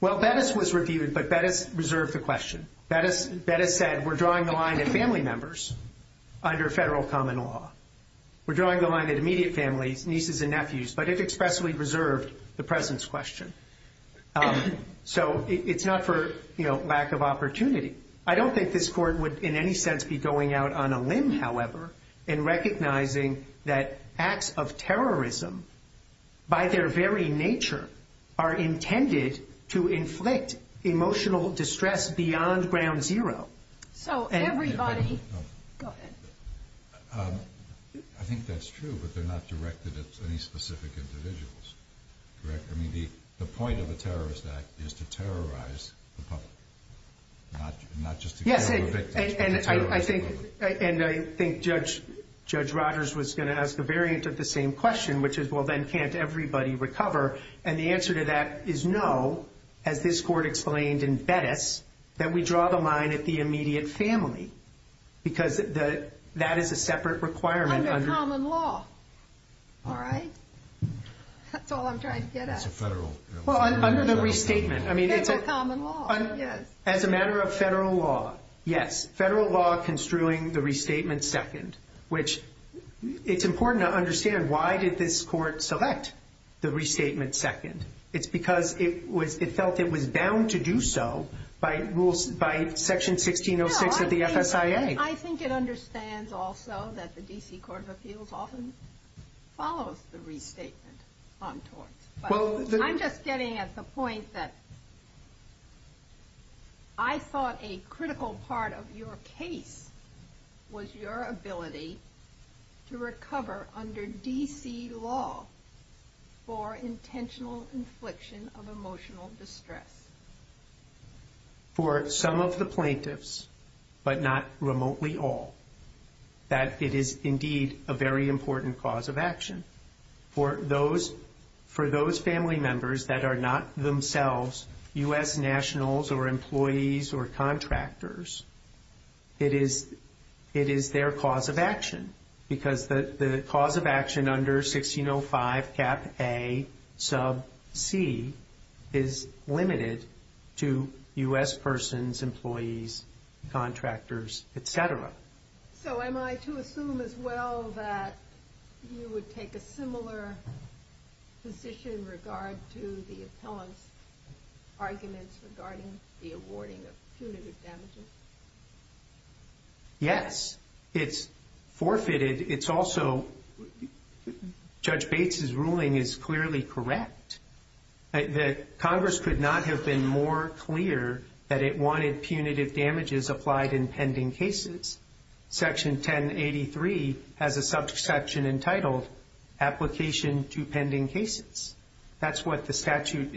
Well, Bettis was reviewed, but Bettis reserved the question. Bettis said we're drawing the line at family members under federal common law. We're drawing the line at immediate family, nieces and nephews, but it expressly reserved the presence question. So it's not for, you know, lack of opportunity. I don't think this court would in any sense be going out on a limb, however, in recognizing that acts of terrorism by their very nature are intended to inflict emotional distress beyond ground zero. I think that's true, but they're not directed at any specific individuals. I mean, the point of a terrorist act is to terrorize the public, not just to kill the victims. And I think Judge Rodgers was going to ask a variant of the same question, which is, well, then can't everybody recover? And the answer to that is no, as this court explained in Bettis, that we draw the line at the immediate family, because that is a separate requirement. Under common law. All right? That's all I'm trying to get at. Well, under the restatement. Under common law, yes. As a matter of federal law, yes. Federal law construing the restatement second, which it's important to understand why did this court select the restatement second. It's because it felt it was bound to do so by rules, by section 1606 of the FSIA. I think it understands also that the D.C. Court of Appeals often follows the restatement. I'm just getting at the point that I thought a critical part of your case was your ability to recover under D.C. law for intentional infliction of emotional distress. For some of the plaintiffs, but not remotely all, that it is indeed a very important cause of action. For those family members that are not themselves U.S. nationals or employees or contractors, it is their cause of action. Because the cause of action under 1605 cap A sub C is limited to U.S. persons, employees, contractors, et cetera. So am I to assume as well that you would take a similar position in regard to the appellant's arguments regarding the awarding of punitive damages? Yes. It's forfeited. It's also Judge Bates' ruling is clearly correct. That Congress could not have been more clear that it wanted punitive damages applied in pending cases. Section 1083 has a subsection entitled application to pending cases. That's what the statute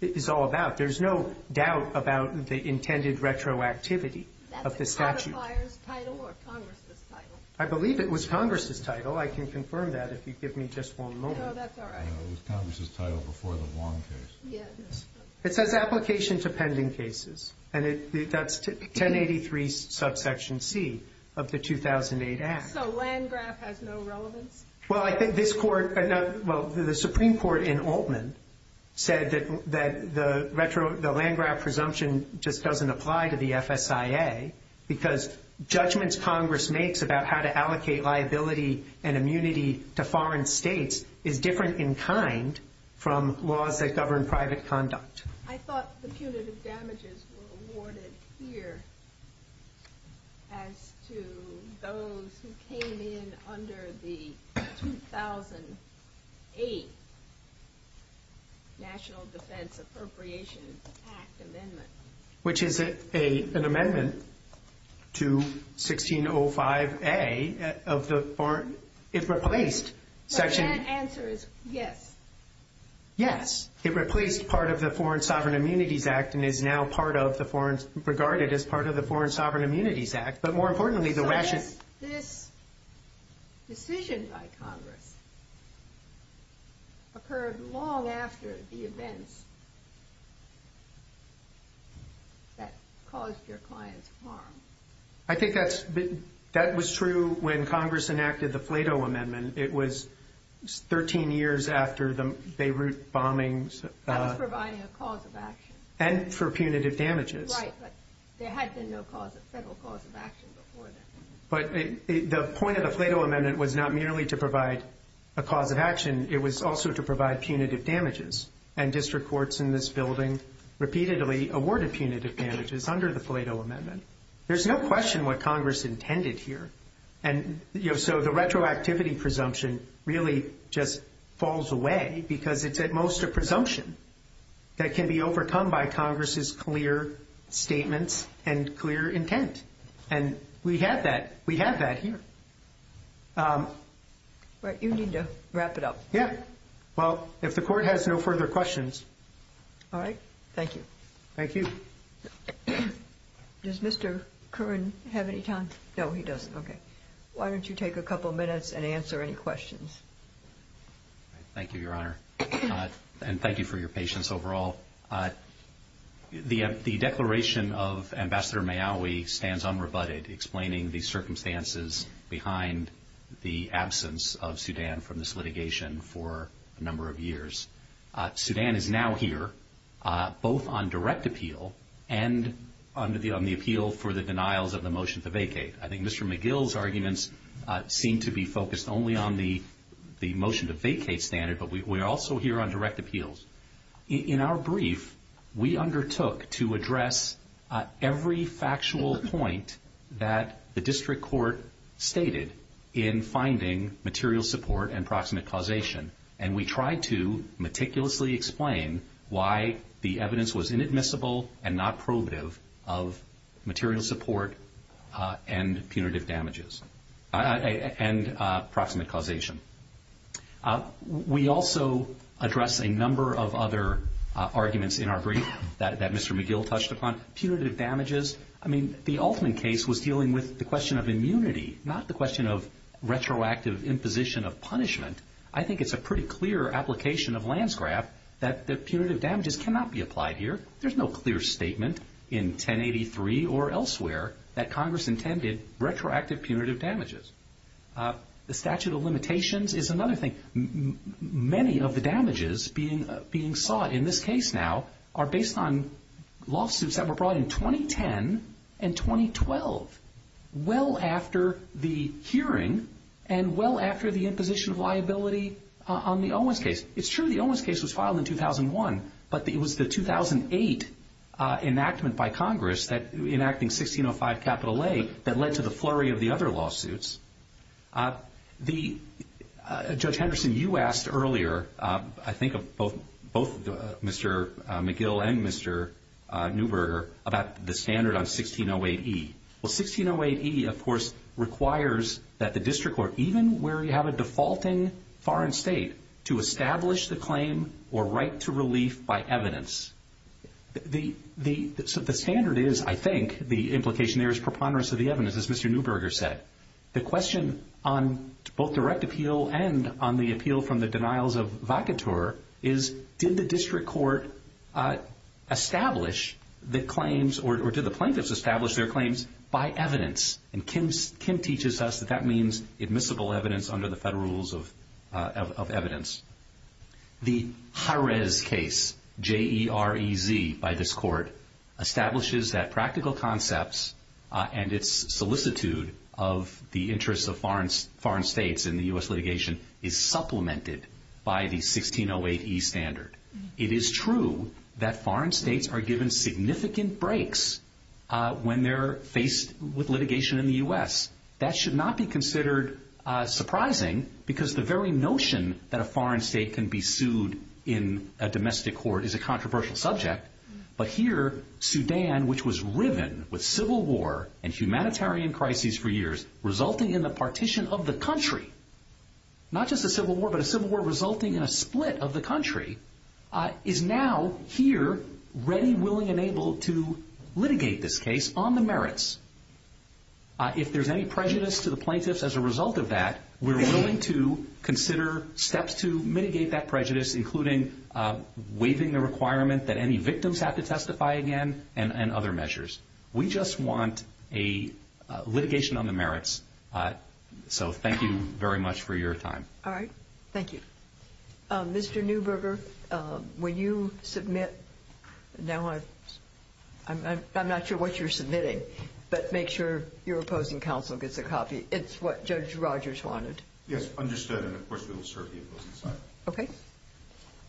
is all about. There's no doubt about the intended retroactivity of the statute. Is that the producer's title or Congress' title? I believe it was Congress' title. I can confirm that if you give me just one moment. No, that's all right. It was Congress' title before the Warren case. It says application to pending cases. And that's 1083 subsection C of the 2008 Act. So Landgraf has no relevance? Well, I think this court, well, the Supreme Court in Altman said that the retro, the Landgraf presumption just doesn't apply to the FSIA because judgments Congress makes about how to allocate liability and immunity to foreign states is different in kind from laws that govern private conduct. I thought punitive damages were awarded here as to those who came in under the 2008 National Defense Appropriations Act amendment. Which is an amendment to 1605A of the foreign, it replaced. The answer is yes. Yes. It replaced part of the Foreign Sovereign Immunities Act and is now part of the Foreign, regarded as part of the Foreign Sovereign Immunities Act. This decision by Congress occurred long after the events that caused your client's harm. I think that was true when Congress enacted the Plato Amendment. It was 13 years after the Beirut bombings. And providing a cause of action. And for punitive damages. Right, but there had been no cause, several causes of action before that. But the point of the Plato Amendment was not merely to provide a cause of action. It was also to provide punitive damages. And district courts in this building repeatedly awarded punitive damages under the Plato Amendment. There's no question what Congress intended here. And so the retroactivity presumption really just falls away. Because it's at most a presumption that can be overcome by Congress's clear statements and clear intent. And we have that. We have that here. Right. You need to wrap it up. Yeah. Well, if the court has no further questions. All right. Thank you. Thank you. Does Mr. Curran have any time? No, he doesn't. Okay. Why don't you take a couple of minutes and answer any questions. Thank you, Your Honor. And thank you for your patience overall. The declaration of Ambassador Maiawi stands unrebutted. Explaining the circumstances behind the absence of Sudan from this litigation for a number of years. Sudan is now here both on direct appeal and on the appeal for the denials of the motion to vacate. I think Mr. McGill's arguments seem to be focused only on the motion to vacate standard. But we're also here on direct appeals. In our brief, we undertook to address every factual point that the district court stated in finding material support and proximate causation. And we tried to meticulously explain why the evidence was inadmissible and not probative of material support and punitive damages. And proximate causation. We also addressed a number of other arguments in our brief that Mr. McGill touched upon. Punitive damages. I mean, the Altman case was dealing with the question of immunity, not the question of retroactive imposition of punishment. I think it's a pretty clear application of Landsgraf that the punitive damages cannot be applied here. There's no clear statement in 1083 or elsewhere that Congress intended retroactive punitive damages. The statute of limitations is another thing. Many of the damages being sought in this case now are based on lawsuits that were brought in 2010 and 2012. Well after the hearing and well after the imposition of liability on the Owens case. It's true the Owens case was filed in 2001, but it was the 2008 enactment by Congress enacting 1605 capital A that led to the flurry of the other lawsuits. Judge Henderson, you asked earlier, I think of both Mr. McGill and Mr. Neuberger, about the standard on 1608E. Well, 1608E, of course, requires that the district court, even where you have a defaulting foreign state, to establish the claim or right to relief by evidence. The standard is, I think, the implication there is preponderance of the evidence, as Mr. Neuberger said. The question on both direct appeal and on the appeal from the denials of vacatur is, did the district court establish the claims or did the plaintiffs establish their claims by evidence? And Kim teaches us that that means admissible evidence under the federal rules of evidence. The Jarez case, J-E-R-E-Z, by this court, establishes that practical concepts and its solicitude of the interest of foreign states in the U.S. litigation is supplemented by the 1608E standard. It is true that foreign states are given significant breaks when they're faced with litigation in the U.S. That should not be considered surprising because the very notion that a foreign state can be sued in a domestic court is a controversial subject. But here, Sudan, which was riven with civil war and humanitarian crises for years, resulting in the partition of the country, not just a civil war but a civil war resulting in a split of the country, is now here ready, willing, and able to litigate this case on the merits. If there's any prejudice to the plaintiffs as a result of that, we're willing to consider steps to mitigate that prejudice, including waiving the requirement that any victims have to testify again and other measures. We just want a litigation on the merits. So thank you very much for your time. All right. Thank you. Mr. Newberger, will you submit? Now I'm not sure what you're submitting, but make sure your opposing counsel gets a copy. It's what Judge Rogers wanted. Yes, understood, and of course we will serve the opposing counsel. Okay.